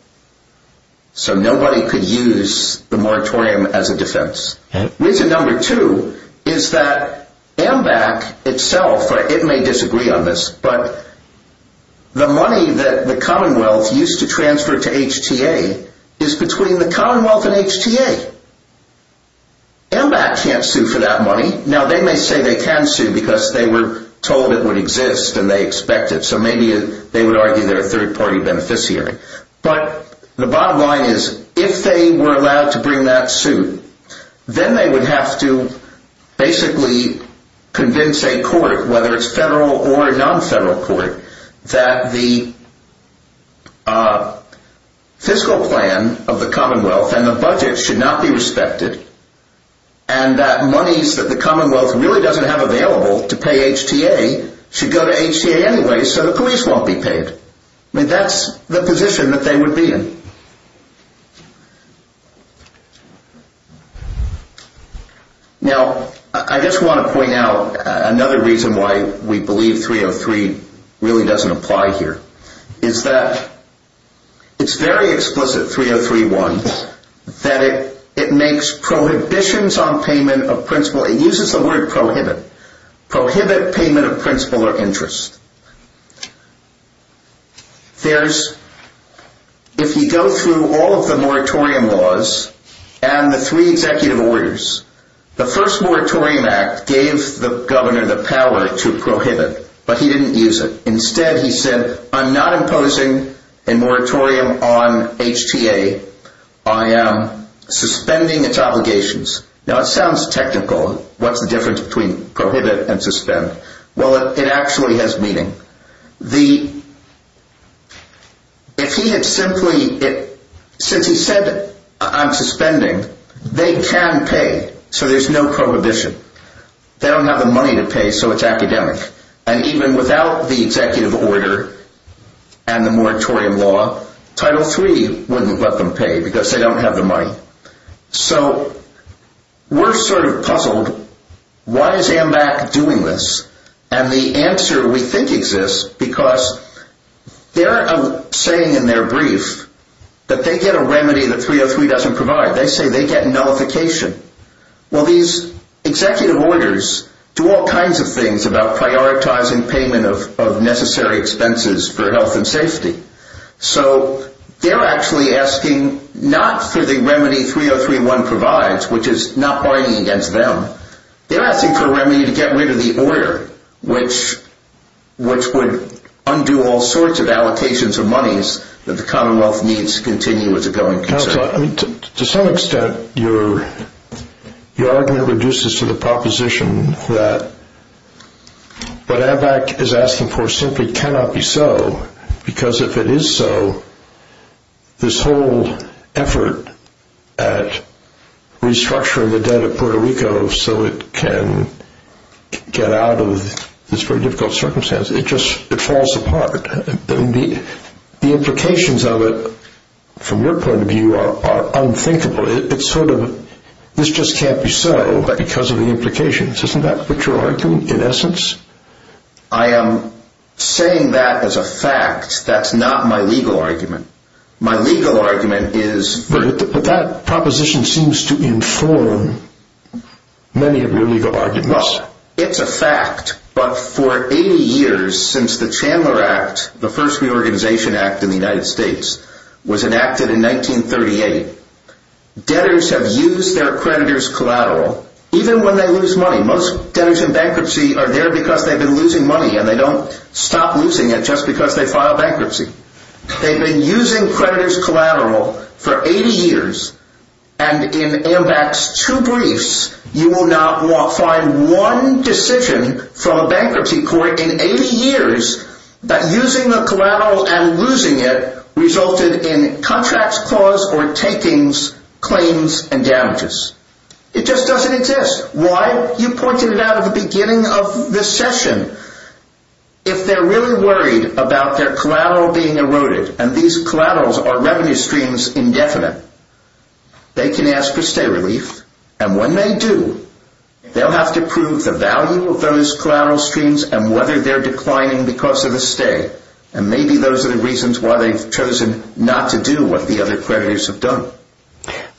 So nobody could use the moratorium as a defense. Reason number two is that AMBAC itself, it may disagree on this, but the money that the Commonwealth used to transfer to HTA is between the Commonwealth and HTA. AMBAC can't sue for that money. Now, they may say they can sue because they were told it would exist and they expect it. So maybe they would argue they're a third-party beneficiary. But the bottom line is if they were allowed to bring that suit, then they would have to basically convince a court, whether it's federal or a non-federal court, that the fiscal plan of the Commonwealth and the budget should not be respected and that monies that the Commonwealth really doesn't have available to pay HTA should go to HTA anyway so the police won't be paid. I mean, that's the position that they would be in. Now, I just want to point out another reason why we believe 303 really doesn't apply here is that it's very explicit, 303.1, that it makes prohibitions on payment of principal. It uses the word prohibit. Prohibit payment of principal or interest. If you go through all of the moratorium laws and the three executive orders, the first moratorium act gave the governor the power to prohibit, but he didn't use it. Instead, he said, I'm not imposing a moratorium on HTA. I am suspending its obligations. Now, it sounds technical. What's the difference between prohibit and suspend? Well, it actually has meaning. Since he said I'm suspending, they can pay, so there's no prohibition. They don't have the money to pay, so it's academic. And even without the executive order and the moratorium law, Title III wouldn't let them pay because they don't have the money. So we're sort of puzzled. Why is AMBAC doing this? And the answer we think exists because they're saying in their brief that they get a remedy that 303 doesn't provide. They say they get nullification. Well, these executive orders do all kinds of things about prioritizing payment of necessary expenses for health and safety. So they're actually asking not for the remedy 303.1 provides, which is not fighting against them. They're asking for a remedy to get rid of the order, which would undo all sorts of allocations of monies that the Commonwealth needs to continue with the bill. To some extent, your argument reduces to the proposition that what AMBAC is asking for simply cannot be so because if it is so, this whole effort at restructuring the debt of Puerto Rico so it can get out of this very difficult circumstance, it just falls apart. The implications of it from your point of view are unthinkable. It's sort of this just can't be solved because of the implications. Isn't that what you're arguing in essence? I am saying that as a fact. That's not my legal argument. My legal argument is... But that proposition seems to inform many of your legal arguments. Well, it's a fact, but for 80 years since the Chandler Act, the first reorganization act in the United States, was enacted in 1938, debtors have used their creditors collateral. Even when they lose money. Most debtors in bankruptcy are there because they've been losing money, and they don't stop losing it just because they filed bankruptcy. They've been using creditors collateral for 80 years, and in AMBAC's two briefs, you will not find one decision from a bankruptcy court in 80 years that using a collateral and losing it resulted in contracts clause or takings, claims, and damages. It just doesn't exist. Why? You pointed it out at the beginning of this session. If they're really worried about their collateral being eroded, and these collaterals are revenue streams indefinite, they can ask for stay relief, and when they do, they'll have to prove the value of those collateral streams and whether they're declining because of the stay. And maybe those are the reasons why they've chosen not to do what the other creditors have done.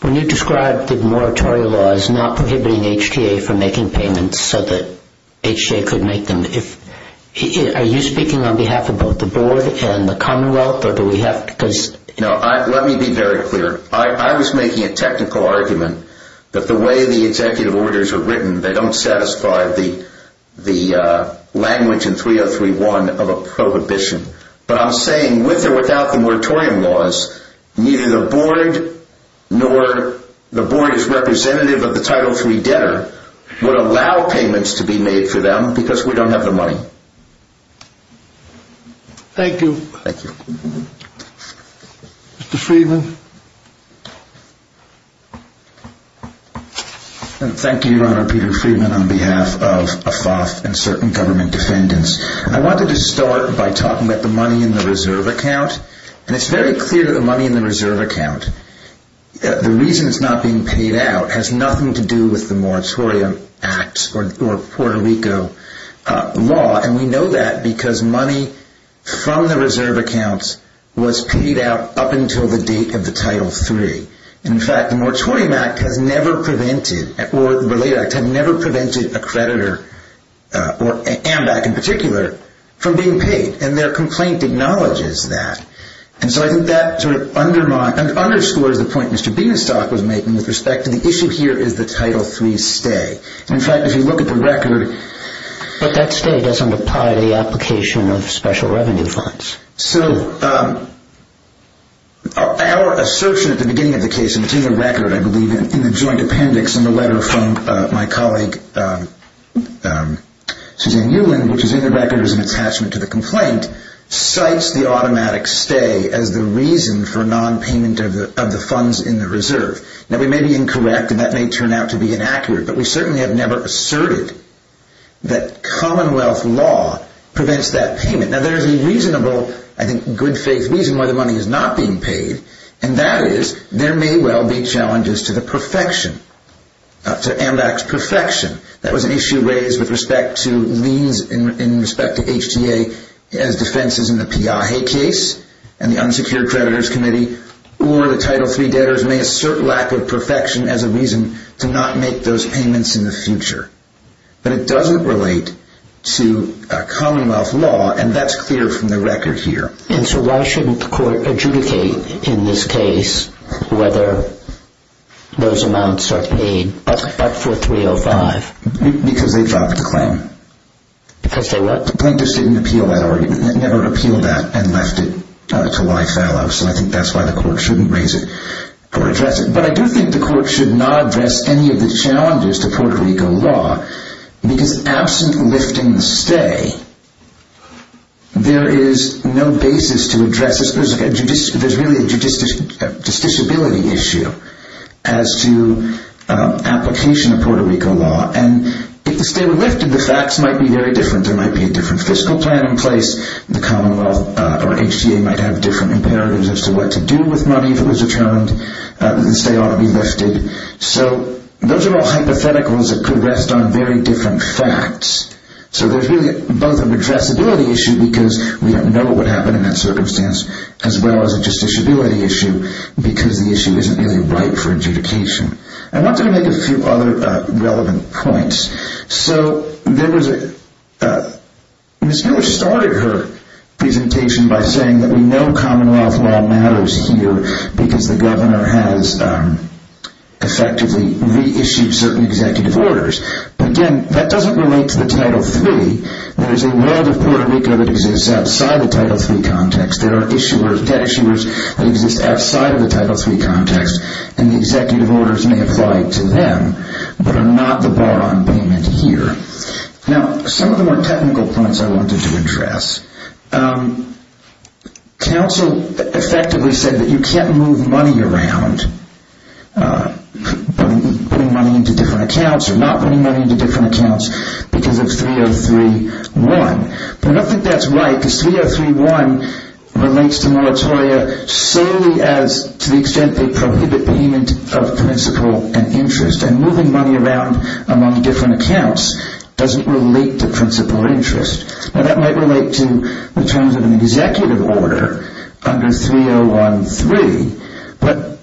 When you describe the moratorium laws not prohibiting HTA from making payments so that HTA could make them, are you speaking on behalf of both the board and the commonwealth, or do we have to... No, let me be very clear. I was making a technical argument that the way the executive orders are written, they don't satisfy the language in 3031 of a prohibition. But I'm saying with or without the moratorium laws, neither the board nor the board as representative of the Title III debtor would allow payments to be made for them because we don't have the money. Thank you. Thank you. Mr. Friedman? Thank you, Your Honor. I'm Peter Friedman on behalf of ACLAS and certain government defendants. I wanted to start by talking about the money in the reserve account. And it's very clear that the money in the reserve account, the reason it's not being paid out, has nothing to do with the moratorium act or Puerto Rico law. And we know that because money from the reserve account was paid out up until the date of the Title III. In fact, the moratorium act has never prevented, or the related act, has never prevented a creditor, or an AMDAC in particular, from being paid. And their complaint acknowledges that. And so I think that sort of undermines, underscores the point Mr. Benestock was making with respect to the issue here is the Title III stay. In fact, if you look at the record... But that stay doesn't apply to the application of special revenue funds. So, our assertion at the beginning of the case, and it's in the record, I believe, in the joint appendix in the letter from my colleague Suzanne Ulan, which is in the record as an attachment to the complaint, cites the automatic stay as the reason for nonpayment of the funds in the reserve. Now, we may be incorrect, and that may turn out to be inaccurate, but we certainly have never asserted that Commonwealth law prevents that payment. Now, there's a reasonable, I think, good faith reason why the money is not being paid, and that is there may well be challenges to the perfection, to AMDAC's perfection. That was an issue raised with respect to liens in respect to HTA as defenses in the Piaget case, and the unsecured creditors committee, or the Title III debtors may assert lack of perfection as a reason to not make those payments in the future. But it doesn't relate to Commonwealth law, and that's clear from the record here. And so, why shouldn't the court adjudicate in this case whether those amounts are paid? That's for 305. Because they dropped the claim. Because they left it. The plaintiffs didn't appeal that argument. They never appealed that and left it to why it fell out. So, I think that's why the court shouldn't raise it or address it. But I do think the court should not address any of the challenges to Puerto Rico law, because absent lifting the stay, there is no basis to address this. There's really a judiciability issue as to application of Puerto Rico law. And if the stay were lifted, the facts might be very different. There might be a different fiscal plan in place. The Commonwealth or HTA might have different imperatives as to what to do with money that was returned. The stay ought to be lifted. So, those are all hypotheticals that could rest on very different facts. So, there's really both an addressability issue, because we don't know what happened in that circumstance, as well as a judiciability issue, because the issue isn't really ripe for adjudication. I want to make a few other relevant points. So, there was a... Ms. Miller started her presentation by saying that we know Commonwealth law matters here because the governor has effectively reissued certain executive orders. But, again, that doesn't relate to the Title III. There's a web of Puerto Rico that exists outside the Title III context. There are debt issuers who exist outside of the Title III context, and the executive orders may apply to them, but are not the bar on payment here. Now, some of the more technical points I wanted to address. Council effectively said that you can't move money around, putting money into different accounts or not putting money into different accounts, because it's 303-1. I don't think that's right, because 303-1 relates to moratoria solely as, to the extent, they prohibit payment of principal and interest, and moving money around among different accounts doesn't relate to principal interest. Now, that might relate to the terms of an executive order under 301-3, but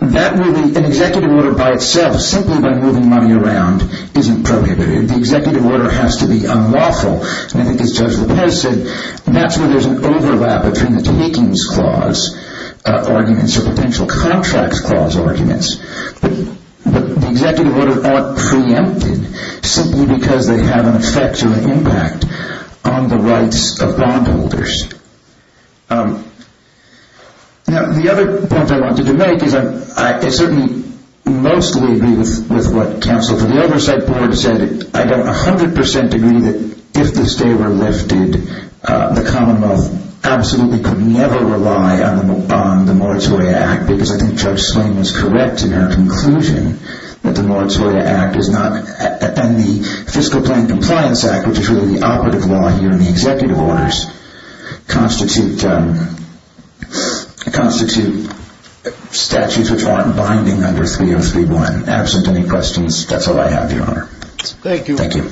an executive order by itself, simply by moving money around, isn't prohibitive. The executive order has to be unlawful, and it is so. The way I see it, that's where there's an overlap between the takings clause arguments or potential contracts clause arguments, but the executive order aren't preempted simply because they have an effect or an impact on the rights of bondholders. Now, the other point I wanted to make is that I certainly mostly agree with what Council did. The Oversight Board said it. I have 100% degree that if this favor were lifted, the Commonwealth absolutely could never rely on the Moratoria Act, because I think Judge Slim is correct in their conclusion that the Moratoria Act is not, and the Fiscal Claim Compliance Act, which is really the operative law here in the executive orders, constitute statutes of law binding under 303-1. Absent any questions, that's all I have, Your Honor. Thank you. Thank you.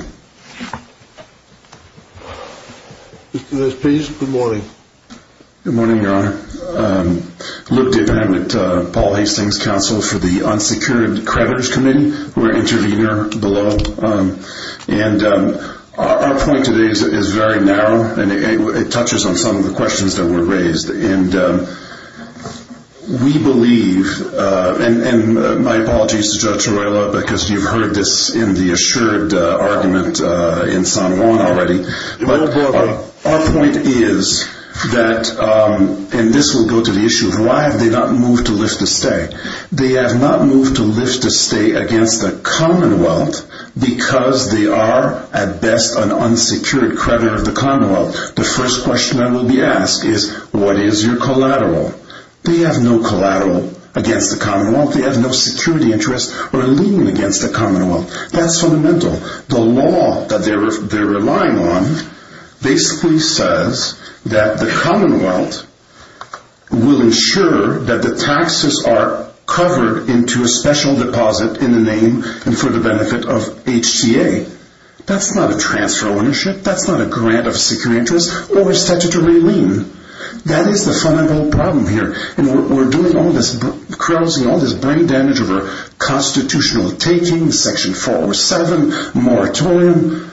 Mr. Nisbe, good morning. Good morning, Your Honor. Look, Dave, I'm at Paul Hastings' counsel for the Unsecured Creditors Committee. We're an intervener below, and our point today is very narrow, and it touches on some of the questions that were raised, and we believe, and my apologies to Judge Arreola, because you've heard this in the assured argument in San Juan already, but our point is that, and this will go to the issue of why have they not moved to lift a stay. They have not moved to lift a stay against the Commonwealth because they are, at best, an unsecured creditor of the Commonwealth. The first question that will be asked is, what is your collateral? They have no collateral against the Commonwealth. They have no security interest or lien against the Commonwealth. That's fundamental. The law that they're relying on basically says that the Commonwealth will ensure that the taxes are covered into a special deposit in the name and for the benefit of HTA. That's not a transfer of ownership. That's not a grant of security interest. What does statutory mean? That is the fundamental problem here, and we're doing all this, carousing all this brain damage over constitutional taking, Section 407, moratorium,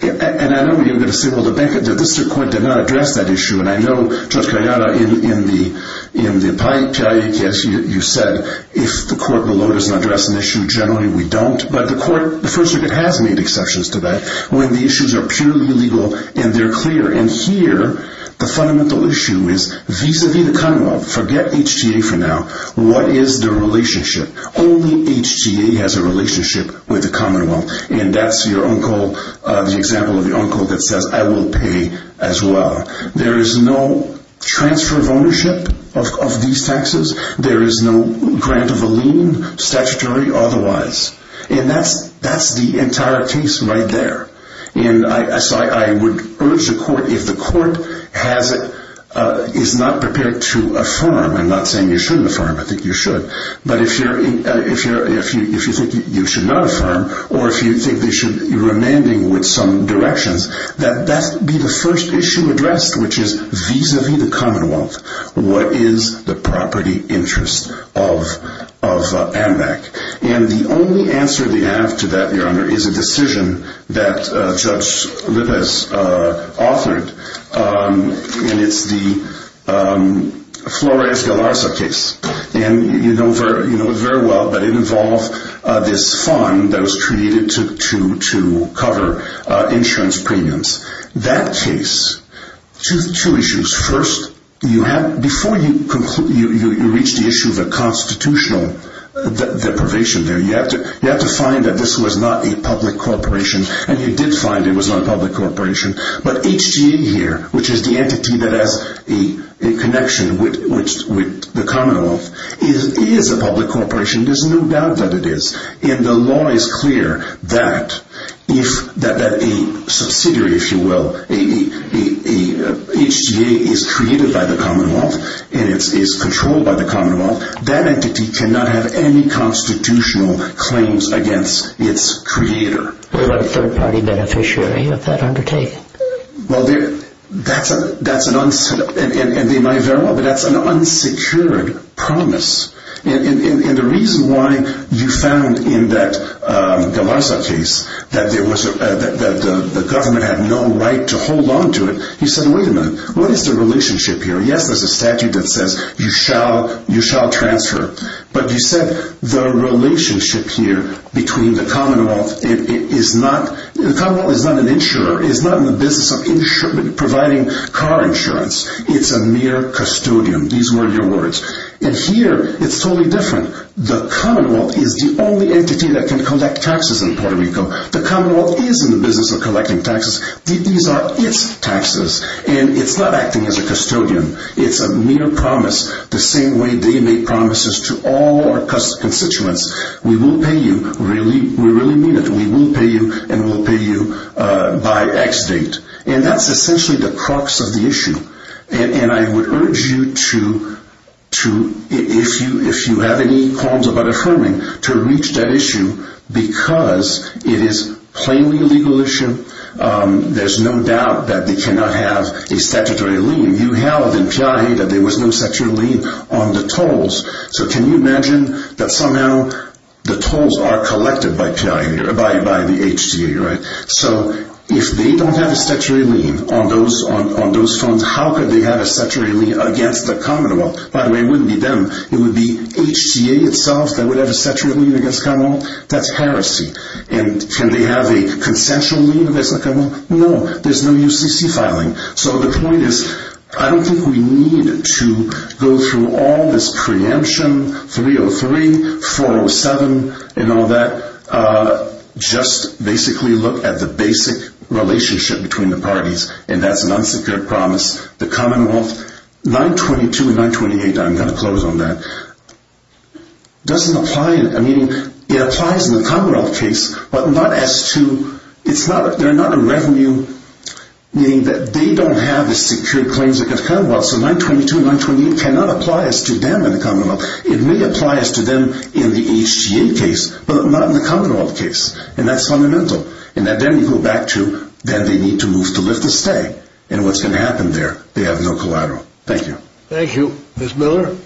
and I know you're going to signal to Becca that this court did not address that issue, and I know, Judge Arreola, in the pie chart you said, if the court below doesn't address an issue, generally we don't, but the court, the First Circuit has made exceptions to that when the issues are purely legal and they're clear, and here the fundamental issue is vis-a-vis the Commonwealth. Forget HTA for now. What is the relationship? Only HTA has a relationship with the Commonwealth, and that's your uncle, the example of your uncle that says, I will pay as well. There is no transfer of ownership of these taxes. There is no grant of a lien, statutory or otherwise, and that's the entire case right there, and so I would urge the court, if the court is not prepared to affirm, I'm not saying you shouldn't affirm, I think you should, but if you think you should not affirm or if you think you're amending with some directions, that that be the first issue addressed, which is vis-a-vis the Commonwealth. What is the property interest of AMAC? And the only answer we have to that, Your Honor, is a decision that Judge Ribas authored, and it's the Flores de Larsa case, and you know it very well, but it involved this fund that was created to cover insurance premiums. That case, two issues. First, before you reach the issue of the constitutional deprivation here, you have to find that this was not a public corporation, and you did find it was not a public corporation, but HGA here, which is the entity that has a connection with the Commonwealth, it is a public corporation, there's no doubt that it is, and the law is clear that if a subsidiary issue, well, HGA is created by the Commonwealth and is controlled by the Commonwealth, that entity cannot have any constitutional claims against its creator. They're not a third-party beneficiary of that undertaking. Well, that's an unsecured promise, and the reason why you found in that de Larsa case that the government had no right to hold on to it, you said, wait a minute, what is the relationship here? Yes, there's a statute that says you shall transfer, but you said the relationship here between the Commonwealth is not, the Commonwealth is not an insurer, it is not in the business of providing car insurance. It's a mere custodian. These were your words. And here, it's totally different. The Commonwealth is the only entity that can collect taxes in Puerto Rico. The Commonwealth is in the business of collecting taxes. These are its taxes, and it's not acting as a custodian. It's a mere promise, the same way they make promises to all our constituents. We will pay you, we really mean it, we will pay you, and we'll pay you by X date. And that's essentially the crux of the issue. And I would urge you to, if you have any qualms about affirming, to reach that issue because it is plainly a legal issue. There's no doubt that they cannot have a statutory lien. You held in PIA that there was no statutory lien on the tolls, so can you imagine that somehow the tolls are collected by the HCA, right? So if they don't have a statutory lien on those tolls, how could they have a statutory lien against the Commonwealth? By the way, it wouldn't be them. It would be HCA itself that would have a statutory lien against the Commonwealth. That's heresy. And can they have a consensual lien against the Commonwealth? No, there's no UCC filing. So the point is, I don't think we need to go through all this preemption, 303, 407, and all that, just basically look at the basic relationship between the parties, and that's an unsecured promise. The Commonwealth, 922 and 928, I'm going to close on that, doesn't apply. I mean, it applies in the Commonwealth case, but not as to, it's not, they're not a revenue, meaning that they don't have the secured claims against the Commonwealth. So 922 and 928 cannot apply as to them in the Commonwealth. It may apply as to them in the HCA case, but not in the Commonwealth case, and that's fundamental. And then we go back to that they need to move to lift this peg, and what's going to happen there, they have no collateral. Thank you. Thank you. Ms. Miller? Thank you.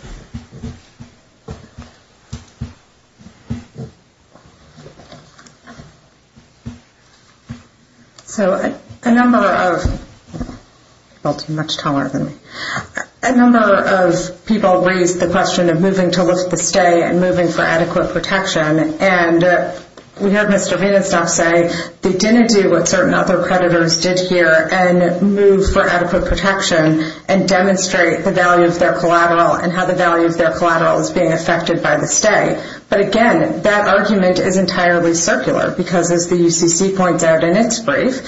So a number of people raised the question of moving to lift the peg and moving for adequate protection, and we heard Mr. Rivas now say they didn't do what certain other creditors did here and move for adequate protection and demonstrate the value of their collateral and how the value of their collateral is being affected by the state. But, again, that argument is entirely circular because, as the CCC points out in its brief,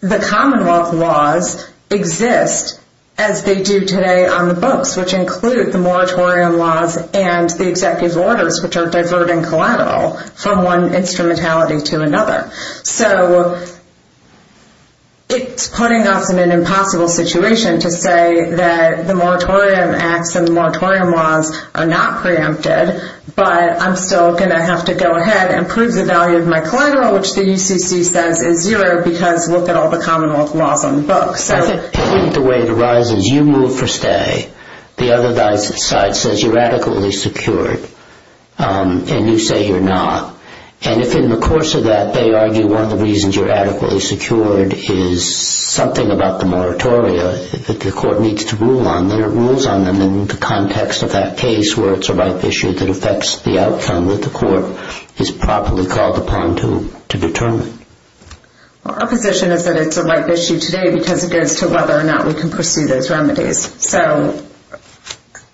the Commonwealth laws exist as they do today on the books, which includes the moratorium laws and the executive orders, which are diverting collateral from one instrumentality to another. So it's putting us in an impossible situation to say that the moratorium acts and the moratorium laws are not preempted, but I'm still going to have to go ahead and prove the value of my collateral, which the CCC says is zero, because we'll tell the Commonwealth law from the books. I think the way it arises, you move for stay, the other side says you're adequately secured, and you say you're not. And if in the course of that they argue one of the reasons you're adequately secured is something about the moratorium that the court needs to rule on, then it rules on them in the context of that case where it's a right issue that affects the outcome that the court is properly called upon to determine. Well, our position is that it's a right issue today because it goes to whether or not we can pursue those remedies. So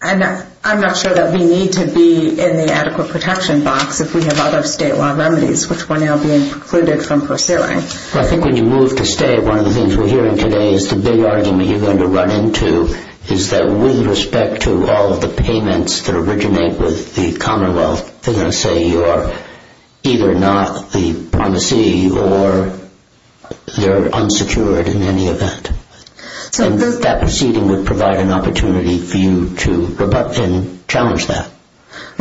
I'm not sure that we need to be in the adequate protection box because we have other statewide remedies which might not be included from pursuing. I think when you move to stay, one of the things we're hearing today is the big argument you're going to run into is that with respect to all of the payments that originate with the Commonwealth, they're going to say you're either not the promissory or you're unsecured in any event. And that proceeding would provide an opportunity for you to rebut and challenge that.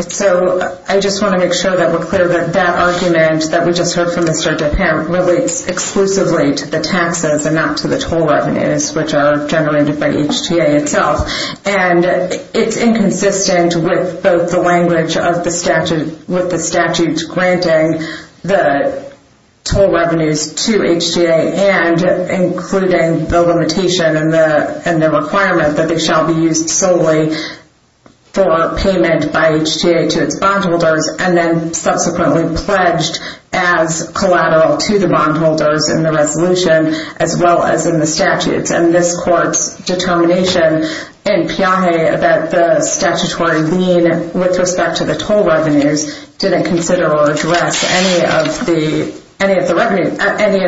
So I just want to make sure that we're clear that that argument that we just heard from Mr. DePant relates exclusively to the taxes and not to the toll revenues which are generated by HTA itself. And it's inconsistent with both the language of the statute, with the statute granting the toll revenues to HTA and including the limitation and the requirement that they shall be used solely for payment by HTA to its bondholders and then subsequently pledged as collateral to the bondholders in the resolution as well as in the statute. And this court's determination in Piaget that the statutory lien with respect to the toll revenues didn't consider or address any of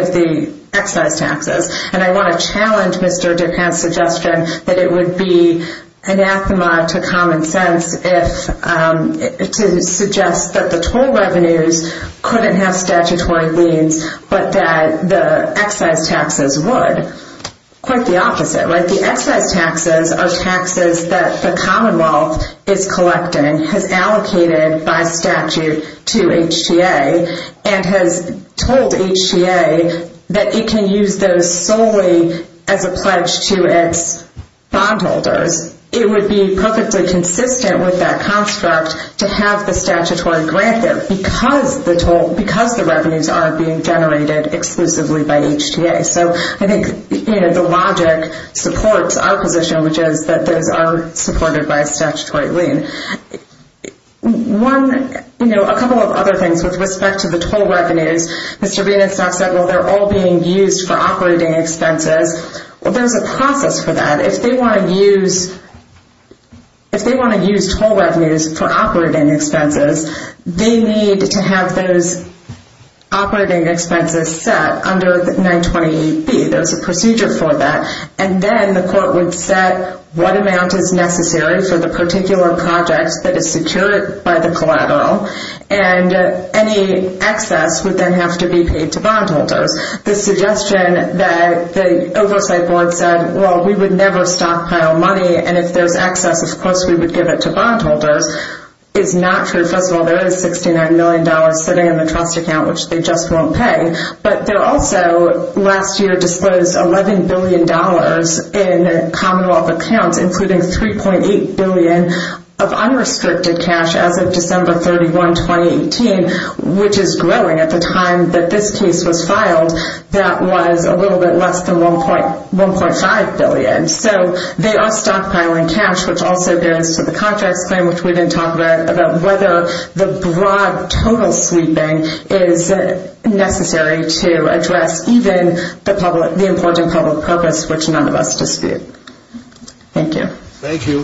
the excise taxes. And I want to challenge Mr. DePant's suggestion that it would be anathema to common sense to suggest that the toll revenues couldn't have statutory liens but that the excise taxes would. Quite the opposite. Like the excise taxes are taxes that the Commonwealth is collecting, has allocated by statute to HTA, and has told HTA that it can use those solely as a pledge to its bondholders. It would be perfectly consistent with that construct to have the statutory grantors because the revenues aren't being generated exclusively by HTA. So I think the logic supports our position, which is that those are supported by a statutory lien. A couple of other things with respect to the toll revenues. Mr. Green has talked about how they're all being used for operating expenses. Well, there's a process for that. If they want to use toll revenues for operating expenses, they need to have those operating expenses set under 928C. There's a procedure for that. And then the court would set what amount is necessary for the particular project that is secured by the collateral, and any excess would then have to be paid to bondholders. The suggestion that the oversight board said, well, we would never stockpile money, and if there's excess, we're supposed to give it to bondholders, is not true because there is $69 million sitting in the trust account, which they just won't pay. But they're also, last year, disposed $11 billion in commonwealth accounts, including $3.8 billion of unrestricted cash as of December 31, 2018, which is growing. At the time that this case was filed, that was a little bit less than $1.5 billion. So they are stockpiling cash, which also goes to the contract claim, which we then talk about whether the broad total sweeping is necessary to address even the important public programs, which none of us dispute. Thank you. Thank you.